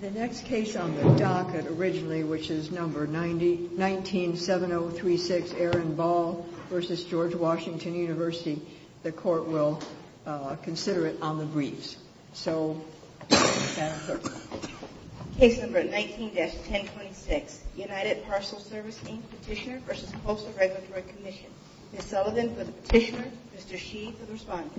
The next case on the docket originally, which is number 19-7036, Aaron Ball v. George Washington University, the court will consider it on the briefs. Case number 19-1026, United Parcel Service, Inc. Petitioner v. Moser Regulatory Commission. Ms. Sullivan for the Petitioner, Mr. Shee for the Respondent.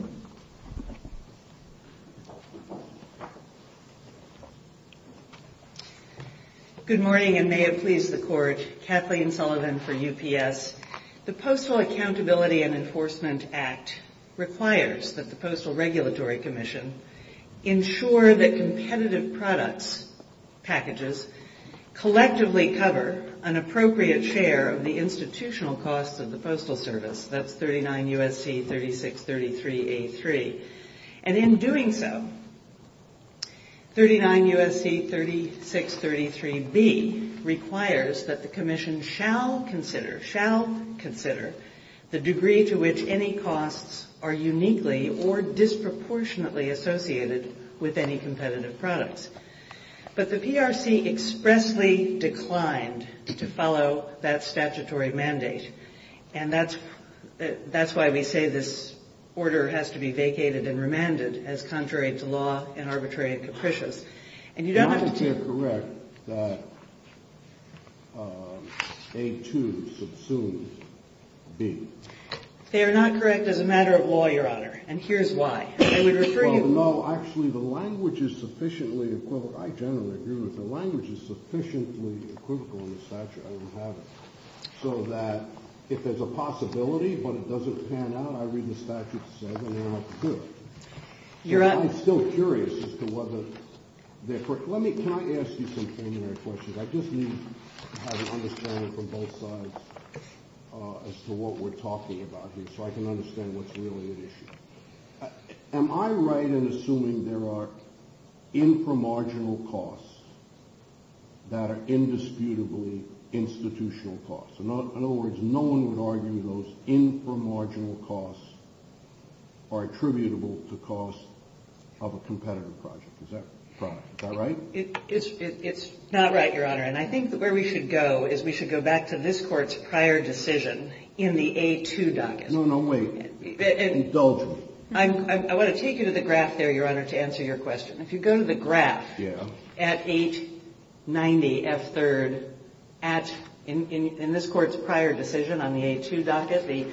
Good morning, and may it please the Court, Kathleen Sullivan for UPS. The Postal Accountability and Enforcement Act requires that the Postal Regulatory Commission ensure that competitive product packages collectively cover an appropriate share of the institutional cost of the postal service. That's 39 U.S.C. 3633A.3. And in doing so, 39 U.S.C. 3633B requires that the Commission shall consider, shall consider, the degree to which any costs are uniquely or disproportionately associated with any competitive products. But the PRC expressly declined to follow that statutory mandate. And that's why we say this order has to be vacated and remanded as contrary to law and arbitrary and capricious. And you don't have to... They are not correct that A2 subsumes B. They are not correct as a matter of law, Your Honor, and here's why. I would refer you... No, actually, the language is sufficiently... I generally agree with the language is sufficiently equivocal as such and have it so that if there's a possibility but it doesn't pan out, I read the statute and say, well, good. Your Honor... I'm still curious as to whether they're correct. Let me try to ask you some questions. I just need to have an understanding from both sides as to what we're talking about here so I can understand what's really the issue. Am I right in assuming there are inframarginal costs that are indisputably institutional costs? In other words, no one would argue those inframarginal costs are attributable to costs of a competitive project. Is that right? It's not right, Your Honor, and I think where we should go is we should go back to this Court's prior decision in the A2 docket. No, no, wait. It's open. I want to take you to the graph there, Your Honor, to answer your question. If you go to the graph at 890F3rd, in this Court's prior decision on the A2 docket, the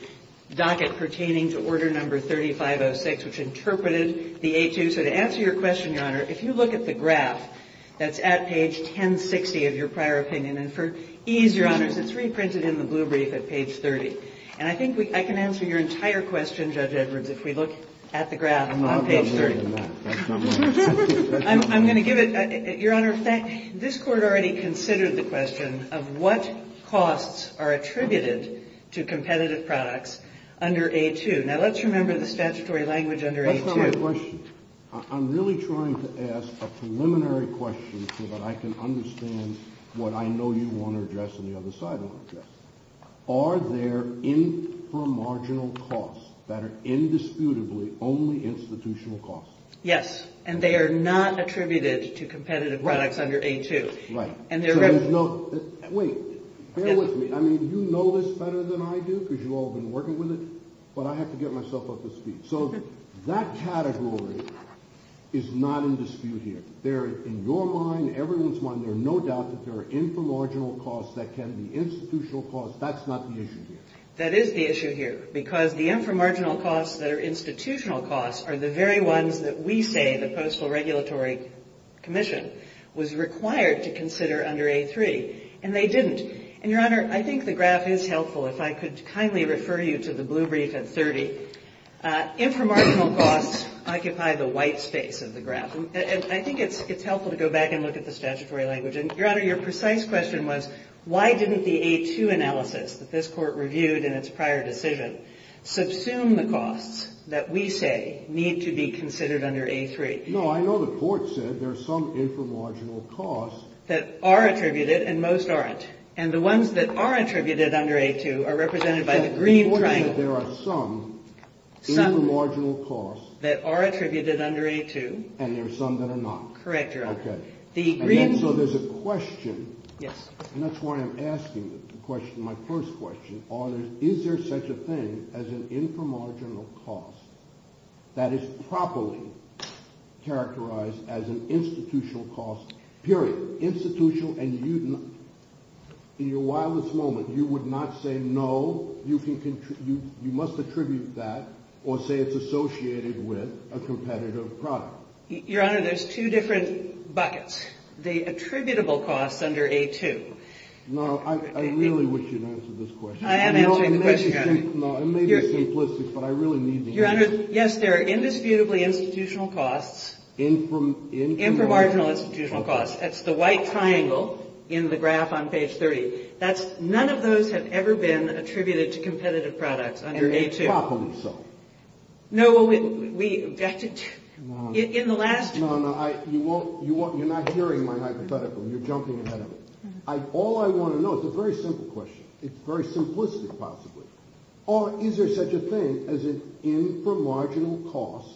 docket pertaining to Order No. 3506, which interpreted the A2. So to answer your question, Your Honor, if you look at the graph that's at page 1060 of your prior opinion, and for ease, Your Honor, it's reprinted in the blue brief at page 30. And I think I can answer your entire question, Judge Edwards, if we look at the graph on page 3. I'm not going to do that. I'm going to give it. Your Honor, this Court already considered the question of what costs are attributed to competitive products under A2. Now, let's remember the statutory language under A2. Let me ask you a question. I'm really trying to ask a preliminary question so that I can understand what I know you want to address on the other side of that. Are there inframarginal costs that are indisputably only institutional costs? Yes. And they are not attributed to competitive products under A2. Right. Wait. Bear with me. I mean, you know this better than I do because you've all been working with it, but I have to get myself up to speed. So that category is not indisputable. In your mind, everyone's mind, there's no doubt that there are inframarginal costs that can be institutional costs. That's not the issue here. That is the issue here because the inframarginal costs that are institutional costs are the very ones that we say the Postal Regulatory Commission was required to consider under A3. And they didn't. And, Your Honor, I think the graph is helpful if I could kindly refer you to the blue brief at 30. Inframarginal costs occupy the white space of the graph. And I think it's helpful to go back and look at the statutory language. And, Your Honor, your precise question was, why didn't the A2 analysis that this court reviewed in its prior decision subsume the costs that we say need to be considered under A3? You know, I know the court said there's some inframarginal costs. That are attributed and most aren't. And the ones that are attributed under A2 are represented by the green triangle. Some that are attributed under A2. And there are some that are not. Correct, Your Honor. So there's a question. And that's why I'm asking the question, my first question. Is there such a thing as an inframarginal cost that is properly characterized as an institutional cost, period? In your wildest moment, you would not say no. You must attribute that or say it's associated with a competitive product. Your Honor, there's two different buckets. The attributable costs under A2. No, I really wish you'd answer this question. I am answering the question. No, I may be simplistic, but I really need the answer. Your Honor, yes, there are indisputably institutional costs. Inframarginal institutional costs. That's the white triangle in the graph on page 30. That's none of those have ever been attributed to competitive products under A2. No, well, we, in the last. No, no, you're not hearing my hypothetical. You're jumping ahead of it. All I want to know, it's a very simple question. It's very simplistic, possibly. Is there such a thing as an inframarginal cost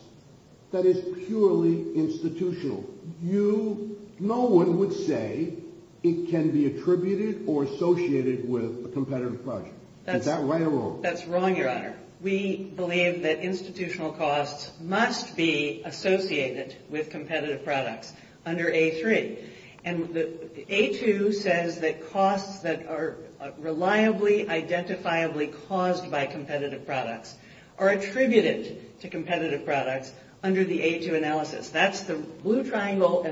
that is purely institutional? No one would say it can be attributed or associated with a competitive product. Is that right or wrong? That's wrong, Your Honor. We believe that institutional costs must be associated with competitive products under A3. And A2 says that costs that are reliably identifiably caused by competitive products are attributed to competitive products under the A2 analysis. That's the blue rectangle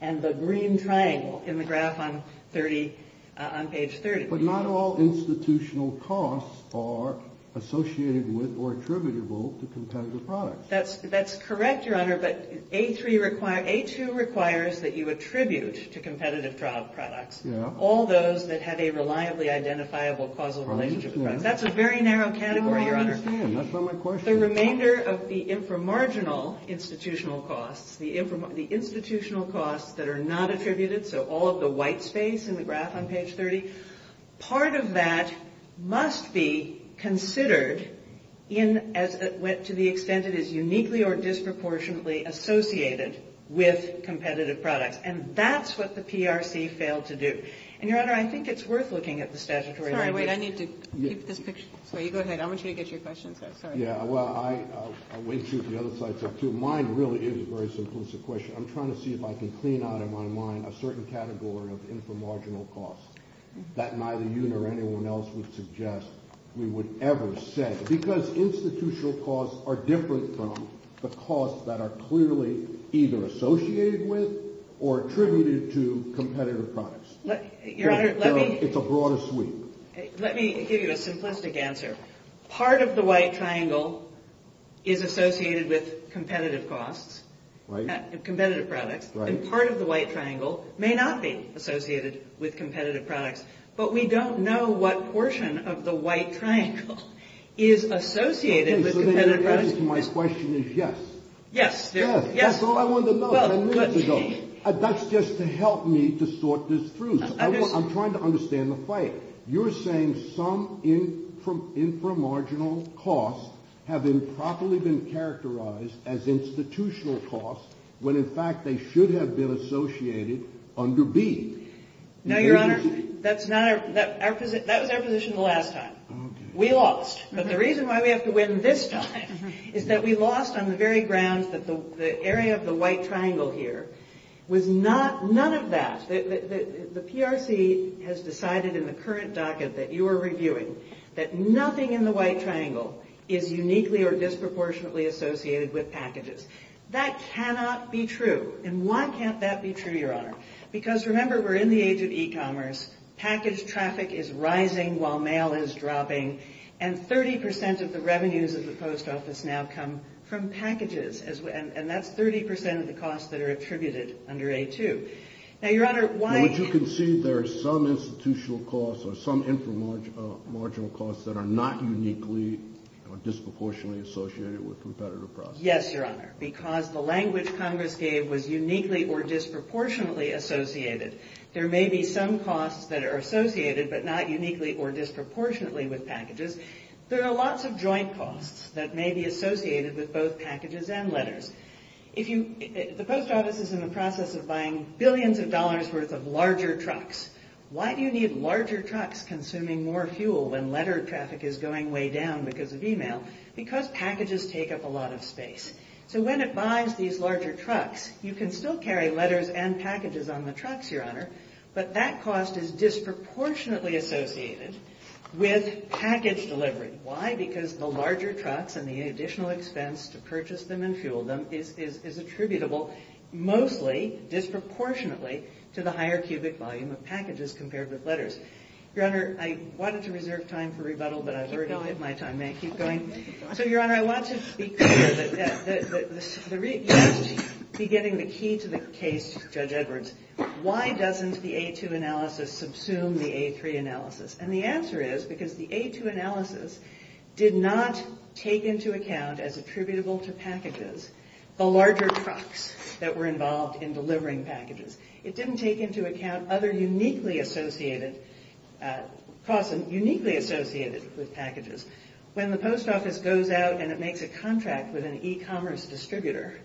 and the green triangle in the graph on page 30. But not all institutional costs are associated with or attributable to competitive products. That's correct, Your Honor, but A2 requires that you attribute to competitive trial products all those that have a reliably identifiable causal relationship. That's a very narrow category, Your Honor. I understand. That's not my question. The remainder of the inframarginal institutional costs, the institutional costs that are not attributed, so all of the white space in the graph on page 30, part of that must be considered to the extent that it is uniquely or disproportionately associated with competitive products. And that's what the PRC failed to do. And, Your Honor, I think it's worth looking at the statutory language. I need to keep this picture. Go ahead. I want you to get your questions up. Yeah, well, I'll wait to get the other slides up, too. Mine really is a very succinct question. I'm trying to see if I can clean out of my mind a certain category of inframarginal costs that neither you nor anyone else would suggest we would ever set because institutional costs are different from the costs that are clearly either associated with or attributed to competitive products. It's a broader sweep. Let me give you a simplistic answer. Part of the white triangle is associated with competitive costs, competitive products. Part of the white triangle may not be associated with competitive products, but we don't know what portion of the white triangle is associated with competitive products. The answer to my question is yes. Yes. That's all I wanted to know. That's just to help me to sort this through. I'm trying to understand the fight. You're saying some inframarginal costs have improperly been characterized as institutional costs when, in fact, they should have been associated under B. No, Your Honor, that was our position the last time. We lost. But the reason why we have to win this time is that we lost on the very grounds that the area of the white triangle here was none of that. The PRC has decided in the current docket that you are reviewing that nothing in the white triangle is uniquely or disproportionately associated with packages. That cannot be true. And why can't that be true, Your Honor? Because, remember, we're in the age of e-commerce. Package traffic is rising while mail is dropping, and 30% of the revenues of the Post Office now come from packages, and that's 30% of the costs that are attributed under A2. Now, Your Honor, why – But you can see there are some institutional costs or some inframarginal costs that are not uniquely or disproportionately associated with competitive products. Yes, Your Honor, because the language Congress gave was uniquely or disproportionately associated. There may be some costs that are associated but not uniquely or disproportionately with packages. There are lots of joint costs that may be associated with both packages and letters. The Post Office is in the process of buying billions of dollars' worth of larger trucks. Why do you need larger trucks consuming more fuel than letter traffic is going way down because of e-mail? Because packages take up a lot of space. So when it buys these larger trucks, you can still carry letters and packages on the trucks, Your Honor, but that cost is disproportionately associated with package delivery. Why? Because the larger trucks and the additional expense to purchase them and fuel them is attributable mostly, disproportionately, to the higher cubic volume of packages compared with letters. Your Honor, I wanted to reserve time for rebuttal, but I've already lost my time. May I keep going? So, Your Honor, I want to speak to the key to the case, Judge Edwards. Why doesn't the A2 analysis subsume the A3 analysis? And the answer is because the A2 analysis did not take into account as attributable to packages the larger trucks that were involved in delivering packages. It didn't take into account other uniquely associated costs uniquely associated with packages. When the post office goes out and it makes a contract with an e-commerce distributor,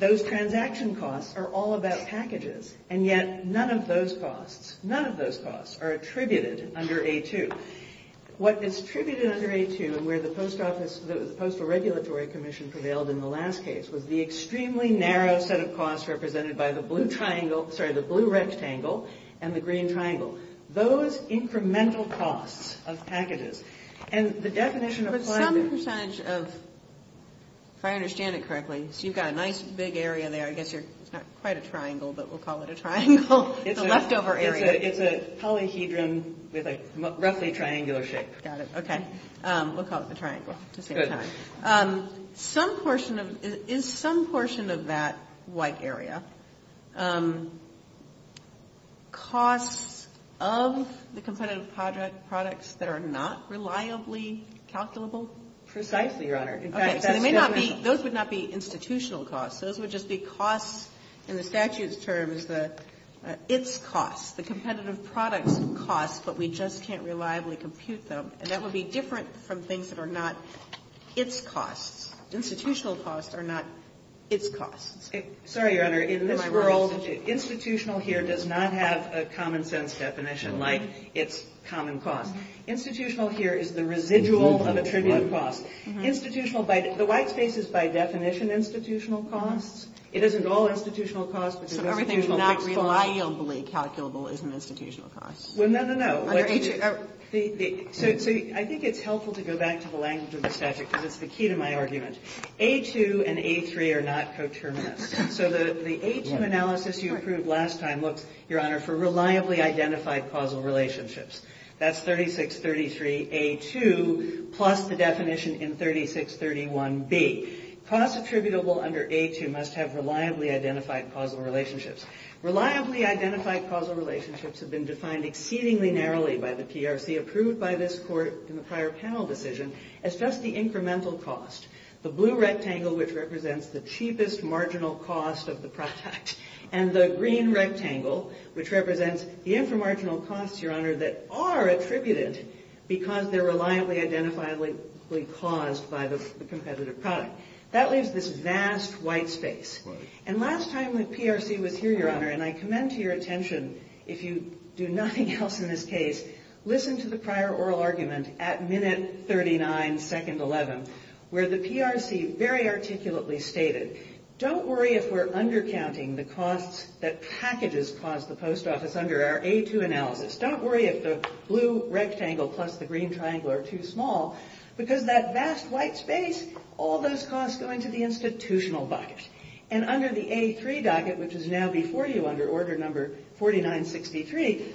those transaction costs are all about packages, and yet none of those costs, none of those costs are attributed under A2. What is attributed under A2 and where the Postal Regulatory Commission prevailed in the last case was the extremely narrow set of costs represented by the blue rectangle and the green triangle. Those incremental costs of packages and the definition of... But some percentage of, if I understand it correctly, you've got a nice big area there. I guess you're quite a triangle, but we'll call it a triangle. It's a leftover area. It's a polyhedron with a roughly triangular shape. Got it. Okay. We'll call it a triangle. Good. Is some portion of that white area costs of the competitive products that are not reliably calculable? Precisely, Your Honor. Okay. Those would not be institutional costs. Those would just be costs in the statute's terms, its costs, the competitive product costs, but we just can't reliably compute them. And that would be different from things that are not its costs. Institutional costs are not its costs. Sorry, Your Honor. In this world, institutional here does not have a common-sense definition like its common costs. Institutional here is the residual of attributable costs. Institutional... The white space is by definition institutional costs. It isn't all institutional costs. So everything's not reliably calculable as an institutional cost? Well, no, no, no. See, I think it's helpful to go back to the language of the statute because it's the key to my argument. A2 and A3 are not coterminous. So the A2 analysis you approved last time, look, Your Honor, for reliably identified causal relationships. That's 3633A2 plus the definition in 3631B. Costs attributable under A2 must have reliably identified causal relationships. Reliably identified causal relationships have been defined exceedingly narrowly by the PRC, approved by this court in the prior panel decision, as just the incremental cost. The blue rectangle, which represents the cheapest marginal cost of the product, and the green rectangle, which represents the intermarginal costs, Your Honor, that are attributed because they're reliably identifiably caused by the competitive product. That leaves this vast white space. And last time the PRC was here, Your Honor, and I commend to your attention, if you do nothing else in this case, listen to the prior oral argument at minute 39, second 11, where the PRC very articulately stated, don't worry if we're undercounting the costs that packages cause the post office under our A2 analysis. Don't worry if the blue rectangle plus the green triangle are too small because that vast white space, all those costs go into the institutional bucket. And under the A3 bucket, which is now before you under order number 4963,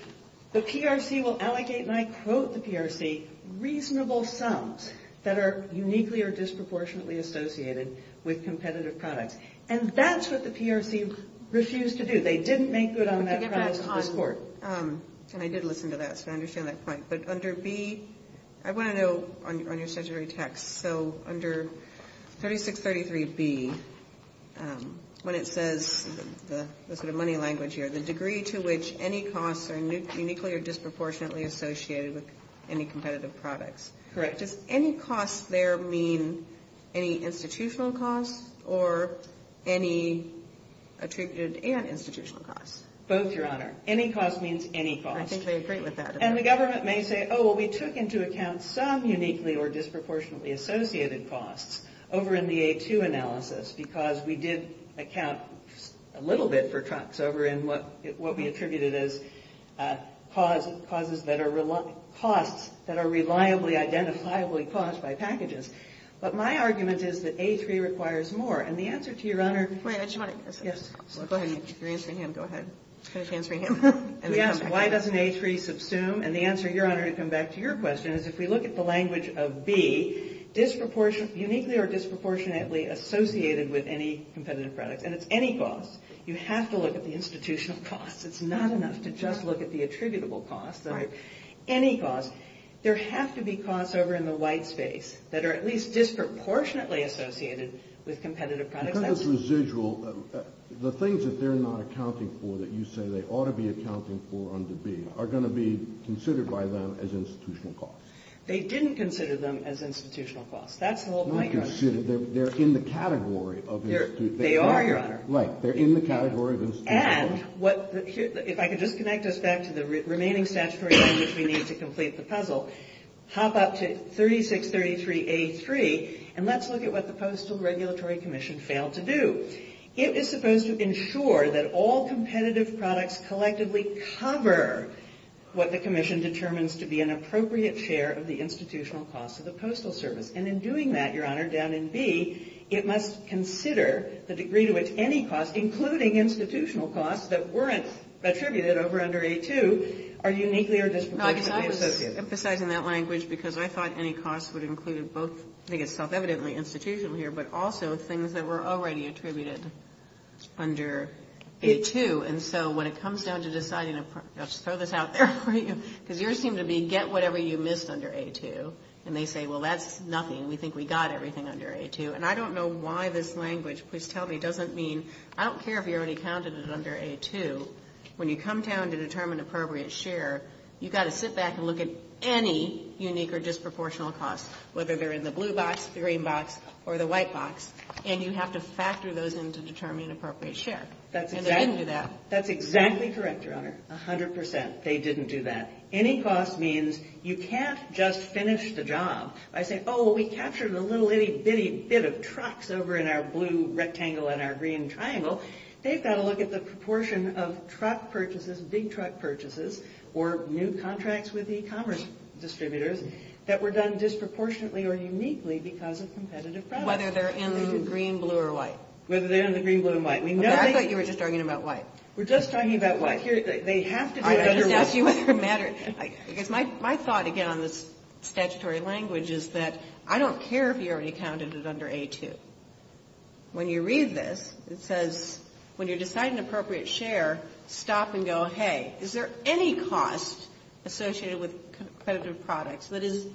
the PRC will allocate, and I quote the PRC, reasonable sums that are uniquely or disproportionately associated with competitive products. And that's what the PRC refused to do. They didn't make good on that advice to this court. And I did listen to that, so I understand that point. But under B, I want to know on your statutory text. So under 3633B, when it says, look at the money language here, the degree to which any costs are uniquely or disproportionately associated with any competitive product. Correct. Does any cost there mean any institutional cost or any attributed and institutional cost? Both, Your Honor. Any cost means any cost. I think I agree with that. And the government may say, oh, well, we took into account some uniquely or disproportionately associated costs over in the A2 analysis because we did account a little bit for cuts over in what we attributed as causes that are reliably, identifiably caused by packages. But my argument is that A3 requires more. And the answer to your Honor is yes. Go ahead. Go ahead. Go ahead. Why doesn't A3 subsume? And the answer, Your Honor, to come back to your question, is if we look at the language of B, uniquely or disproportionately associated with any competitive product. And it's any cost. You have to look at the institutional cost. It's not enough to just look at the attributable cost. Any cost. There has to be costs over in the white space that are at least disproportionately associated with competitive products. Because it's residual, the things that they're not accounting for that you say they ought to be accounting for under B are going to be considered by them as institutional costs. They didn't consider them as institutional costs. That's the whole point, Your Honor. It's not considered. They're in the category of institutional costs. They are, Your Honor. Right. They're in the category of institutional costs. So, hop up to 3633A3, and let's look at what the Postal Regulatory Commission failed to do. It is supposed to ensure that all competitive products collectively cover what the commission determines to be an appropriate share of the institutional cost of the postal service. And in doing that, Your Honor, down in B, it must consider the degree to which any cost, including institutional costs that weren't attributed over under A2, are uniquely or disproportionately associated. I'm emphasizing that language because I thought any cost would include both, I think it's self-evidently institutional here, but also things that were already attributed under A2. And so, when it comes down to deciding, I'll just throw this out there for you, because yours seemed to be get whatever you missed under A2. And they say, well, that's nothing. We think we got everything under A2. And I don't know why this language, please tell me, doesn't mean, I don't care if you already counted it under A2. When you come down to determine appropriate share, you've got to sit back and look at any unique or disproportional cost, whether they're in the blue box, the green box, or the white box. And you have to factor those in to determine appropriate share. And they didn't do that. That's exactly correct, Your Honor, 100%. They didn't do that. Any cost means you can't just finish the job. I think, oh, well, we captured a little itty-bitty bit of trucks over in our blue rectangle and our green triangle. They've got to look at the proportion of truck purchases, big truck purchases, or new contracts with e-commerce distributors that were done disproportionately or uniquely because of competitive products. Whether they're in the green, blue, or white. Whether they're in the green, blue, or white. I thought you were just talking about white. We're just talking about white. Seriously. They have to do it. I didn't ask you what your matter is. My thought, again, on this statutory language is that I don't care if you already counted it under A2. When you read this, it says when you decide an appropriate share, stop and go, hey, is there any cost associated with competitive products that is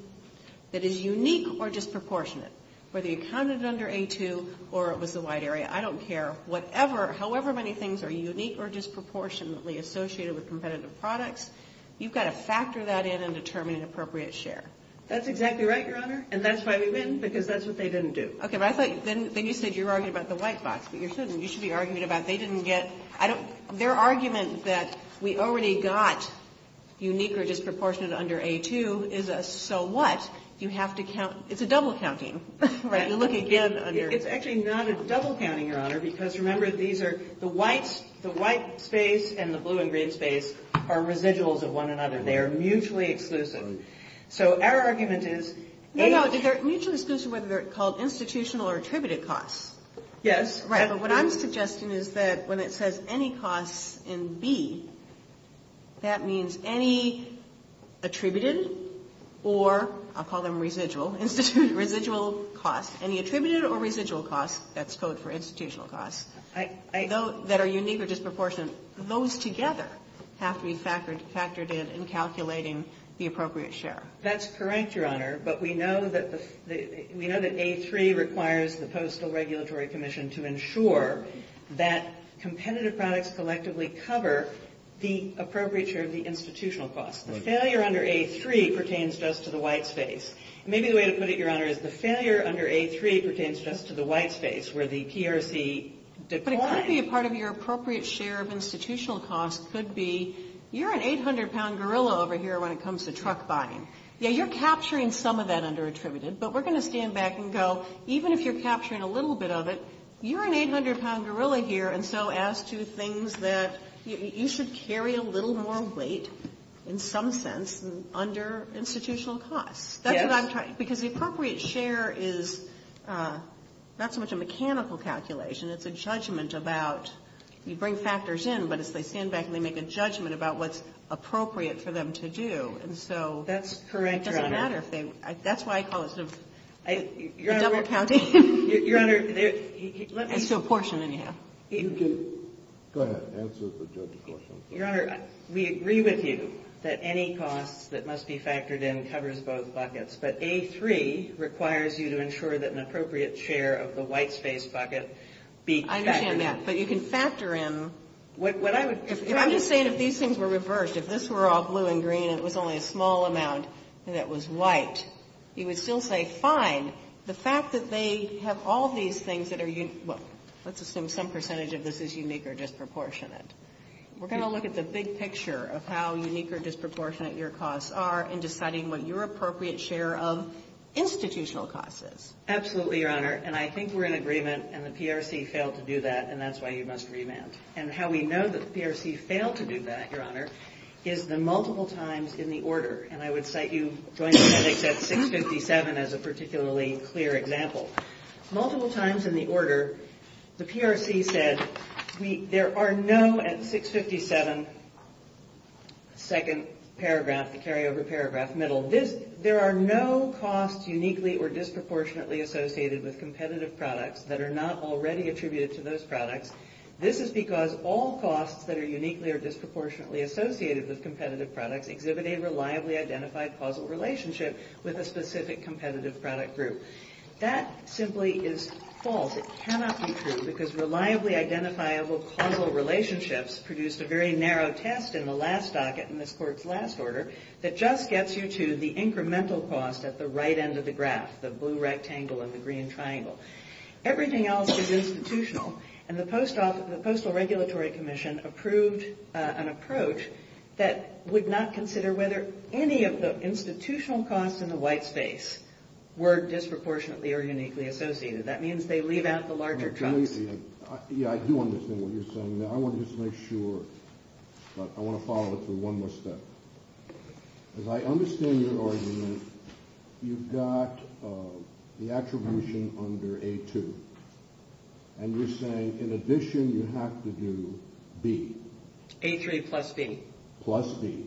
unique or disproportionate? Whether you counted it under A2 or it was the white area, I don't care. However many things are unique or disproportionately associated with competitive products, you've got to factor that in and determine an appropriate share. That's exactly right, Your Honor. And that's why we win because that's what they didn't do. Okay. Then you said you were arguing about the white box, but you shouldn't. You should be arguing about they didn't get. Their argument that we already got unique or disproportionate under A2 is a so what. You have to count. It's a double counting. Right. It's actually not a double counting, Your Honor, because remember these are the white space and the blue and green space are residuals of one another. They are mutually exclusive. So our argument is A. No, no. Mutually exclusive whether it's called institutional or attributed cost. Yes. Right. What I'm suggesting is that when it says any cost in B, that means any attributed or I'll call them residual, residual cost, any attributed or residual cost that's code for institutional cost that are unique or disproportionate. Those together have to be factored in in calculating the appropriate share. That's correct, Your Honor, but we know that A3 requires the Postal Regulatory Commission to ensure that competitive products collectively cover the appropriate share of the institutional cost. Failure under A3 pertains just to the white space. Maybe the way to put it, Your Honor, is the failure under A3 pertains just to the white space where the PRC declines. But it could be a part of your appropriate share of institutional cost could be you're an 800-pound gorilla over here when it comes to truck buying. Yeah, you're capturing some of that under attributed, but we're going to stand back and go even if you're capturing a little bit of it, you're an 800-pound gorilla here and so as to things that you should carry a little more weight in some sense under institutional cost. Because the appropriate share is not so much a mechanical calculation. It's a judgment about you bring factors in, but if they stand back and they make a judgment about what's appropriate for them to do. That's correct, Your Honor. That's why I call it a double-accounting. Your Honor, we agree with you that any cost that must be factored in covers both buckets, but A3 requires you to ensure that an appropriate share of the white space bucket be factored in. I understand that, but you can factor in. If I'm just saying that these things were reversed, if this were all blue and green and it was only a small amount and it was white, you would still say fine. The fact that they have all these things that are, let's assume some percentage of this is unique or disproportionate. We're going to look at the big picture of how unique or disproportionate your costs are in deciding what your appropriate share of institutional cost is. Absolutely, Your Honor, and I think we're in agreement, and the PRC failed to do that, and that's why you must agree, ma'am. And how we know that the PRC failed to do that, Your Honor, is the multiple times in the order. And I would cite you joining me at 657 as a particularly clear example. Multiple times in the order, the PRC says there are no, at 657, second paragraph, carryover paragraph, middle, there are no costs uniquely or disproportionately associated with competitive products that are not already attributed to those products. This is because all costs that are uniquely or disproportionately associated with competitive products exhibit a reliably identified causal relationship with a specific competitive product group. That simply is false. It cannot be true because reliably identifiable causal relationships produced a very narrow test in the last docket in this court's last order that just gets you to the incremental cost at the right end of the graph, the blue rectangle and the green triangle. Everything else is institutional, and the Postal Regulatory Commission approved an approach that would not consider whether any of the institutional costs in the white space were disproportionately or uniquely associated. That means they leave out the larger chunks. Yeah, I do understand what you're saying. I want to just make sure. I want to follow up with one more step. As I understand your argument, you've got the attribution under A2. And you're saying in addition you have to do B. A3 plus B. Plus B.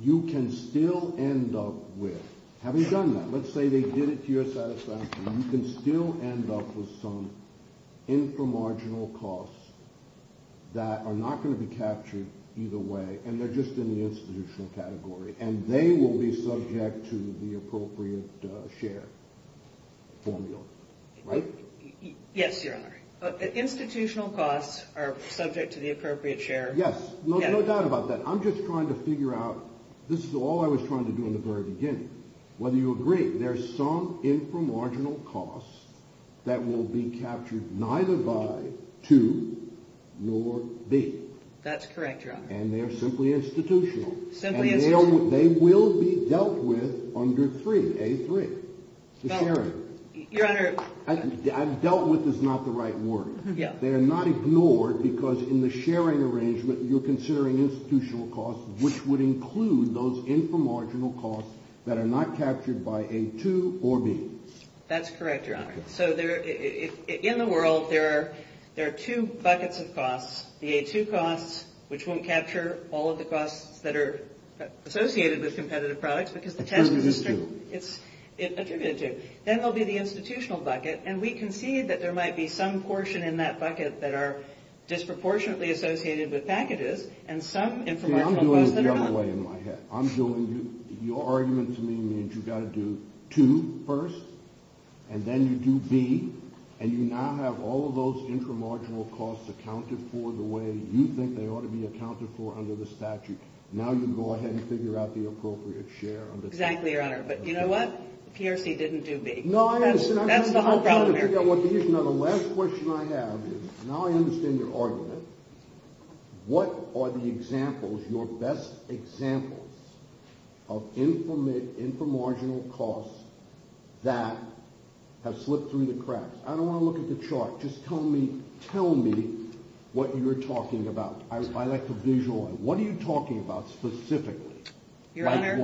You can still end up with, having done that, let's say they did it to your satisfaction, you can still end up with some inframarginal costs that are not going to be captured either way, and they're just in the institutional category, and they will be subject to the appropriate share formula, right? Yes, Your Honor. Institutional costs are subject to the appropriate share. Yes, no doubt about that. I'm just trying to figure out, this is all I was trying to do in the very beginning. When you agree there's some inframarginal costs that will be captured neither by 2 nor B. That's correct, Your Honor. And they're simply institutional. And they will be dealt with under 3, A3. It's a sharing. Your Honor. Dealt with is not the right word. They are not ignored because in the sharing arrangement you're considering institutional costs, which would include those inframarginal costs that are not captured by A2 or B. That's correct, Your Honor. So in the world there are two buckets of costs. The A2 costs, which won't capture all of the costs that are associated with competitive products, because the tax district is competitive. Then there will be the institutional bucket, and we can see that there might be some portion in that bucket that are disproportionately associated with negatives. I'm doing it the other way in my head. I'm doing your argument to me that you've got to do 2 first, and then you do B, and you now have all of those inframarginal costs accounted for the way you think they ought to be accounted for under the statute. Now you can go ahead and figure out the appropriate share. Exactly, Your Honor. But you know what? PRC didn't do B. No, I understand. Now the last question I have is, now I understand your argument, what are the examples, your best examples, of inframarginal costs that have slipped through the cracks? I don't want to look at the chart. Just tell me what you're talking about. I like to visualize. What are you talking about specifically? Your Honor,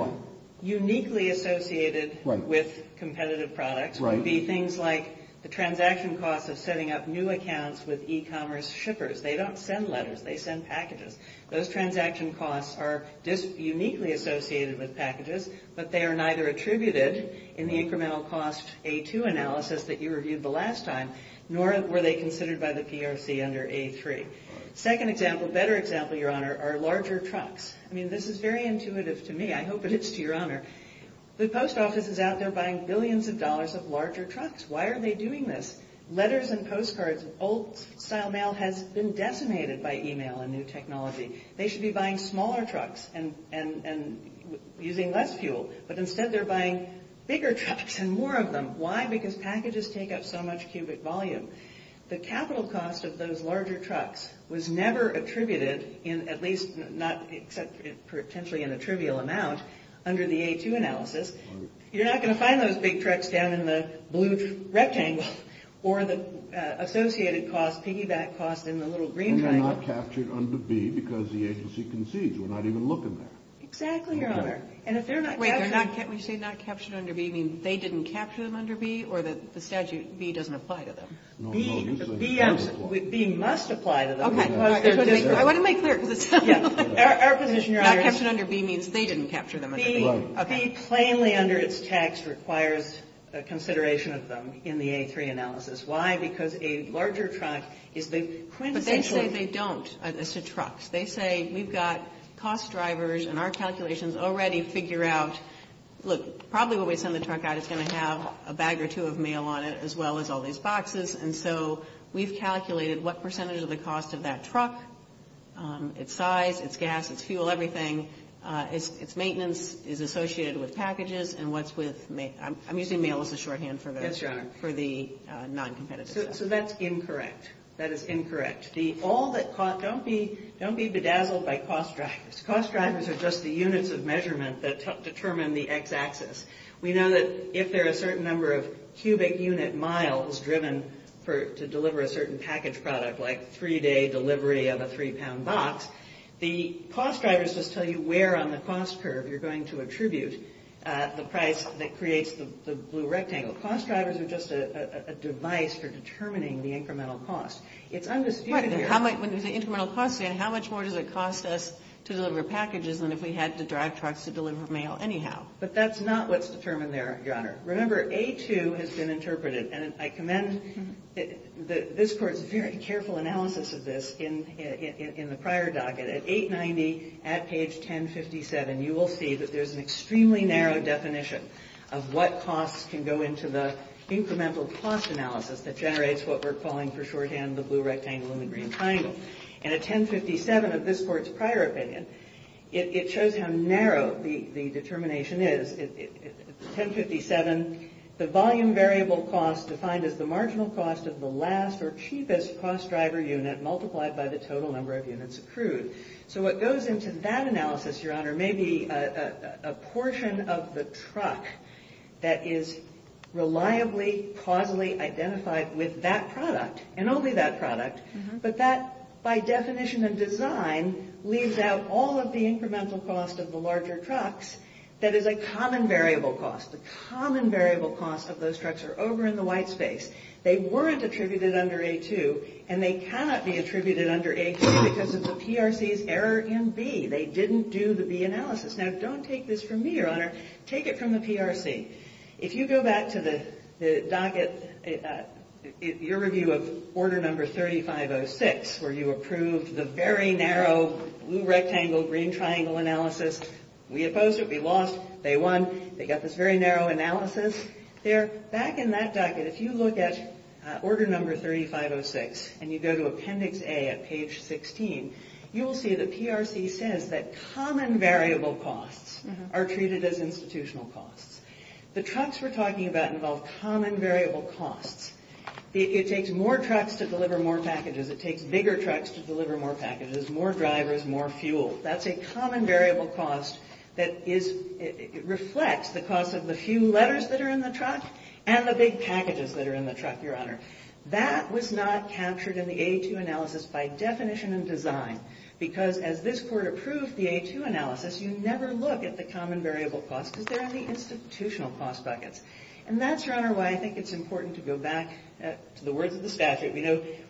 uniquely associated with competitive products would be things like the transaction costs of setting up new accounts with e-commerce shippers. They don't send letters. They send packages. Those transaction costs are just uniquely associated with packages, but they are neither attributed in the incremental cost A2 analysis that you reviewed the last time, nor were they considered by the PRC under A3. Second example, better example, Your Honor, are larger trucks. I mean, this is very intuitive to me. I hope it is to Your Honor. The post office is out there buying billions of dollars of larger trucks. Why are they doing this? Letters and postcards, old-style mail has been decimated by e-mail and new technology. They should be buying smaller trucks and using less fuel, but instead they're buying bigger trucks and more of them. Why? Because packages take up so much cubic volume. The capital cost of those larger trucks was never attributed in at least not except potentially in a trivial amount under the A2 analysis. You're not going to find those big trucks down in the blue wrecking or the associated cost piggyback cost in the little green truck. And they're not captured under B because the agency concedes. We're not even looking there. Exactly, Your Honor. And if they're not captured under B, you mean they didn't capture them under B or the statute B doesn't apply to them? No, no. B must apply to them. Okay. I want to make certain. Yes. Our position, Your Honor. Not captured under B means they didn't capture them under B. B plainly under its tax requires a consideration of them in the A3 analysis. Why? Because a larger truck is potentially... Potentially they don't. It's a truck. They say we've got cost drivers and our calculations already figure out, look, probably when we send the truck out it's going to have a bag or two of mail on it as well as all these boxes. And so we've calculated what percentage of the cost of that truck, its size, its gas, its fuel, everything, its maintenance is associated with packages and what's with... I'm using mail as a shorthand for the non-competitive. So that's incorrect. That is incorrect. Don't be bedazzled by cost drivers. Cost drivers are just the units of measurement that determine the X axis. We know that if there are a certain number of cubic unit miles driven to deliver a certain package product like three-day delivery of a three-pound box, the cost drivers just tell you where on the cost curve you're going to attribute the price that creates the blue rectangle. Cost drivers are just a device for determining the incremental cost. It's undisputed here. When we say incremental cost, how much more does it cost us to deliver packages than if we had to drive trucks to deliver mail anyhow? But that's not what's determined there, Your Honor. Remember, A2 has been interpreted. And I commend that this Court's very careful analysis of this in the prior docket. At 890 at page 1057, you will see that there's an extremely narrow definition of what costs can go into the incremental cost analysis that generates what we're calling for shorthand the blue rectangle and the green triangle. And at 1057, at this Court's prior opinion, it shows how narrow the determination is. At 1057, the volume variable cost defined as the marginal cost of the last or cheapest cost driver unit multiplied by the total number of units accrued. So what goes into that analysis, Your Honor, may be a portion of the truck that is reliably, plausibly identified with that product and only that product. But that, by definition of design, leaves out all of the incremental cost of the larger trucks that is a common variable cost. The common variable cost of those trucks are over in the white space. They weren't attributed under A2, and they cannot be attributed under A2 because of the PRC's error in B. They didn't do the B analysis. Now, don't take this from me, Your Honor. Take it from the PRC. If you go back to the docket, your review of order number 3506, where you approved the very narrow blue rectangle, green triangle analysis, we opposed it, we lost, they won. They got this very narrow analysis. Back in that docket, if you look at order number 3506 and you go to Appendix A at page 16, you will see the PRC says that common variable costs are treated as institutional costs. The trucks we're talking about involve common variable costs. It takes more trucks to deliver more packages. It takes bigger trucks to deliver more packages, more drivers, more fuel. That's a common variable cost that reflects the cost of the few letters that are in the truck and the big packages that are in the truck, Your Honor. That was not captured in the A2 analysis by definition and design because as this Court approved the A2 analysis, you never look at the common variable cost because they're in the institutional cost docket. And that's, Your Honor, why I think it's important to go back to the words of the statute.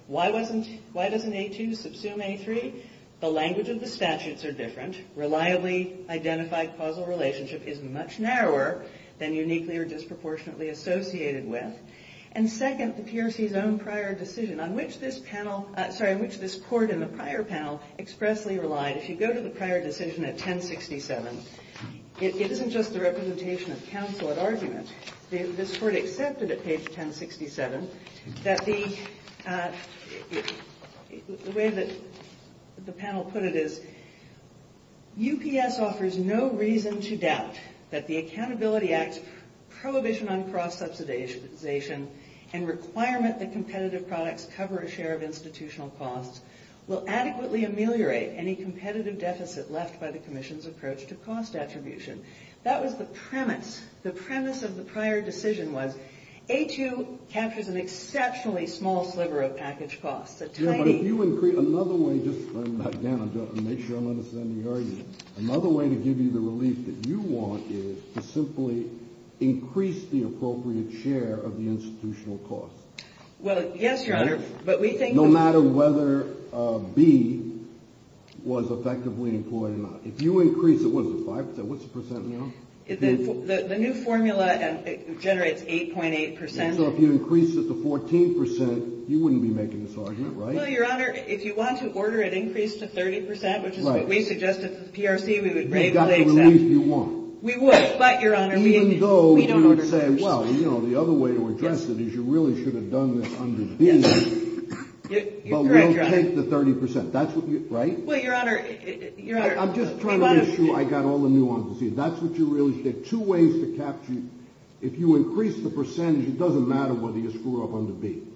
Why doesn't A2 subsume A3? The language of the statutes are different. Reliably identified causal relationship is much narrower than uniquely or disproportionately associated with. And second, the PRC's own prior decision on which this panel, sorry, which this Court in the prior panel expressly relied. If you go to the prior decision at 1067, it isn't just the representation of counsel at argument. This Court accepted at page 1067 that the way that the panel put it is, UPS offers no reason to doubt that the Accountability Act's prohibition on cross subsidization and requirement that competitive products cover a share of institutional costs will adequately ameliorate any competitive deficit left by the Commission's approach to cost attribution. That was the premise. The premise of the prior decision was A2 captures an exceptionally small sliver of package cost. But if you increase, another way, just to turn that down, just to make sure I understand the argument, another way to give you the relief that you want is to simply increase the appropriate share of the institutional cost. Well, yes, Your Honor, but we think that No matter whether B was effectively employed or not. If you increase it, what is it, 5%? What's the percent now? The new formula generates 8.8%. So if you increase it to 14%, you wouldn't be making this argument, right? Well, Your Honor, if you want to order it increased to 30%, which is what we suggest at the PRC, we would say that. We've got the relief you want. We would, but Your Honor, we don't understand. Even though we would say, well, you know, the other way to address it is you really should have done this under B, but we'll take the 30%. That's what we, right? Well, Your Honor, Your Honor I'm just trying to make sure I've got all the nuances. That's what you really should have. Two ways to capture, if you increase the percentage, it doesn't matter whether you're screwed up under B.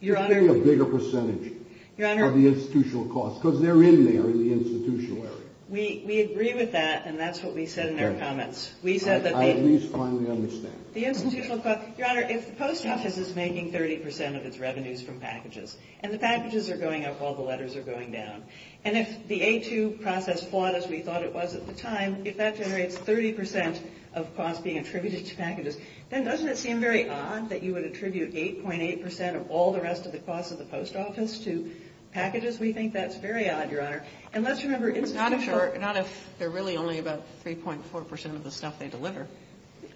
You're saying a bigger percentage of the institutional cost, because they're in there, the institutional cost. We agree with that, and that's what we said in our comments. I at least finally understand. The institutional cost, Your Honor, if the post office is making 30% of its revenues from packages, and the packages are going up while the letters are going down, and if the A2 process fought as we thought it was at the time, if that generates 30% of cost being attributed to packages, then doesn't it seem very odd that you would attribute 8.8% of all the rest of the cost of the post office to packages? We think that's very odd, Your Honor. And let's remember, it's not a chart. Not if they're really only about 3.4% of the stuff they deliver.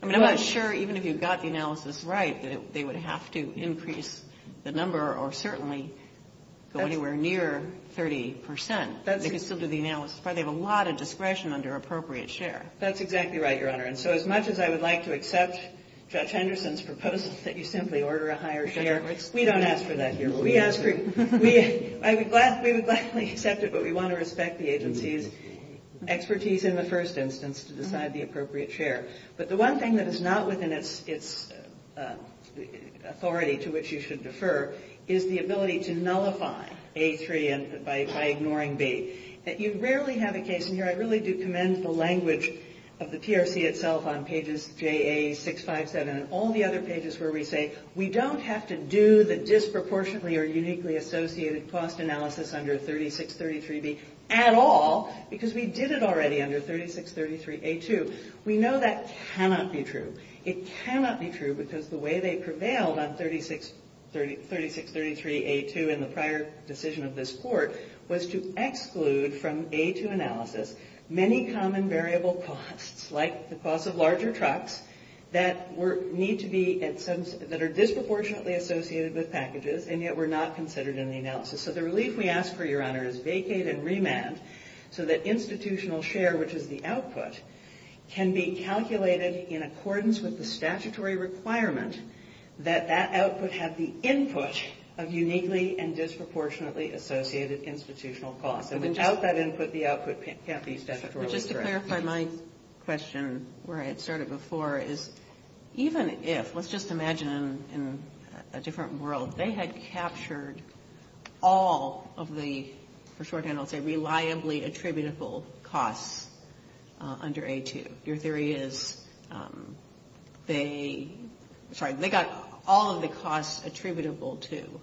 I'm not sure even if you got the analysis right that they would have to increase the number, or certainly go anywhere near 30%. They could still do the analysis, but they have a lot of discretion under appropriate share. That's exactly right, Your Honor. And so as much as I would like to accept Judge Henderson's proposal that you simply order a higher share, we don't ask for that. We would like to accept it, but we want to respect the agency's expertise in the first instance to decide the appropriate share. But the one thing that is not within its authority to which you should defer is the ability to nullify A3 by ignoring B. You rarely have a case, and here I really do commend the language of the TRC itself on pages JA657 and all the other pages where we say we don't have to do the disproportionately or uniquely associated cost analysis under 3633B at all because we did it already under 3633A2. We know that cannot be true. It cannot be true because the way they prevailed on 3633A2 in the prior decision of this court was to exclude from A2 analysis many common variable costs like the cost of larger trucks that need to be at some – that are disproportionately associated with packages and yet were not considered in the analysis. So the relief we ask for, Your Honor, is vacate and remand so that institutional share, which is the output, can be calculated in accordance with the statutory requirement that that output have the input of uniquely and disproportionately associated institutional cost. And without that input, the output can't be statutorily corrected. Just to clarify my question where I had started before is even if, let's just imagine in a different world, they had captured all of the, for short handles, the reliably attributable costs under A2. Your theory is they – sorry, they got all of the costs attributable to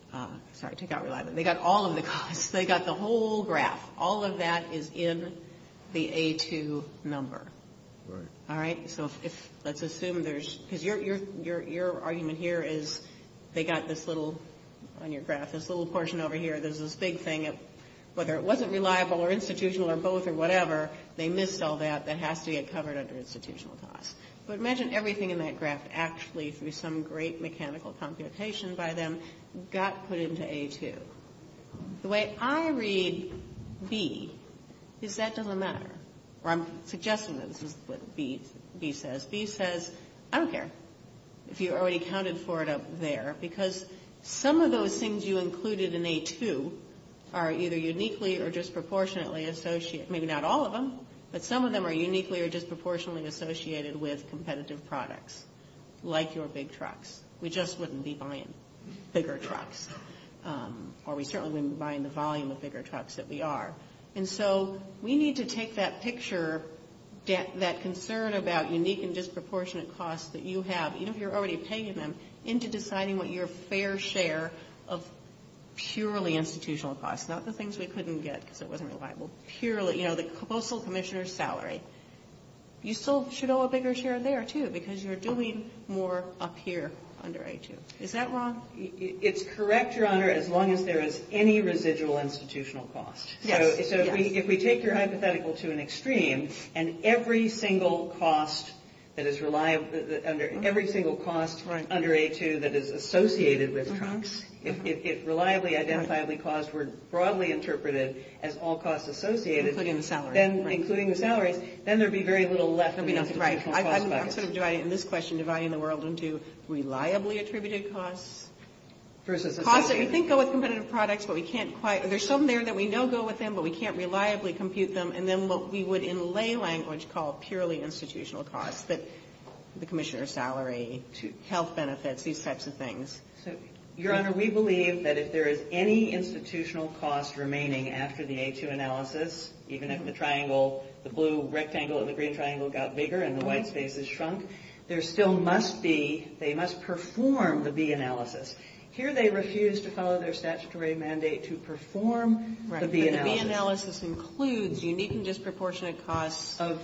– sorry, they got reliability. They got all of the costs. They got the whole graph. All of that is in the A2 number. Right. All right? So let's assume there's – because your argument here is they got this little, on your graph, this little portion over here. There's this big thing of whether it wasn't reliable or institutional or both or whatever, they missed all that that has to get covered under institutional cost. But imagine everything in that graph actually through some great mechanical computation by them got put into A2. The way I read B is that doesn't matter. I'm suggesting this is what B says. B says, I don't care if you already counted for it up there because some of those things you included in A2 are either uniquely or disproportionately – I mean, not all of them, but some of them are uniquely or disproportionately associated with competitive products like your big trucks. We just wouldn't be buying bigger trucks. Or we certainly wouldn't be buying the volume of bigger trucks that we are. And so we need to take that picture, that concern about unique and disproportionate costs that you have, even if you're already paying them, into deciding what your fair share of purely institutional costs, not the things we couldn't get because it wasn't reliable. You know, the postal commissioner's salary. You still should owe a bigger share there, too, because you're doing more up here under A2. Is that wrong? It's correct, Your Honor, as long as there is any residual institutional cost. So if we take your hypothetical to an extreme and every single cost under A2 that is associated with – if reliably, identifiably costs were broadly interpreted as all costs associated, including the salary, then there would be very little left of the institutional cost. I'm sort of driving this question, dividing the world into reliably attributed costs, costs that we think go with competitive products, but we can't quite – there's some there that we know go with them, but we can't reliably compute them, and then what we would in lay language call purely institutional costs, the commissioner's salary, health benefits, these types of things. Your Honor, we believe that if there is any institutional cost remaining after the A2 analysis, even if the triangle, the blue rectangle and the green triangle got bigger and the white space is shrunk, there still must be – they must perform the B analysis. Here they refuse to follow their statutory mandate to perform the B analysis. The B analysis includes unique and disproportionate costs of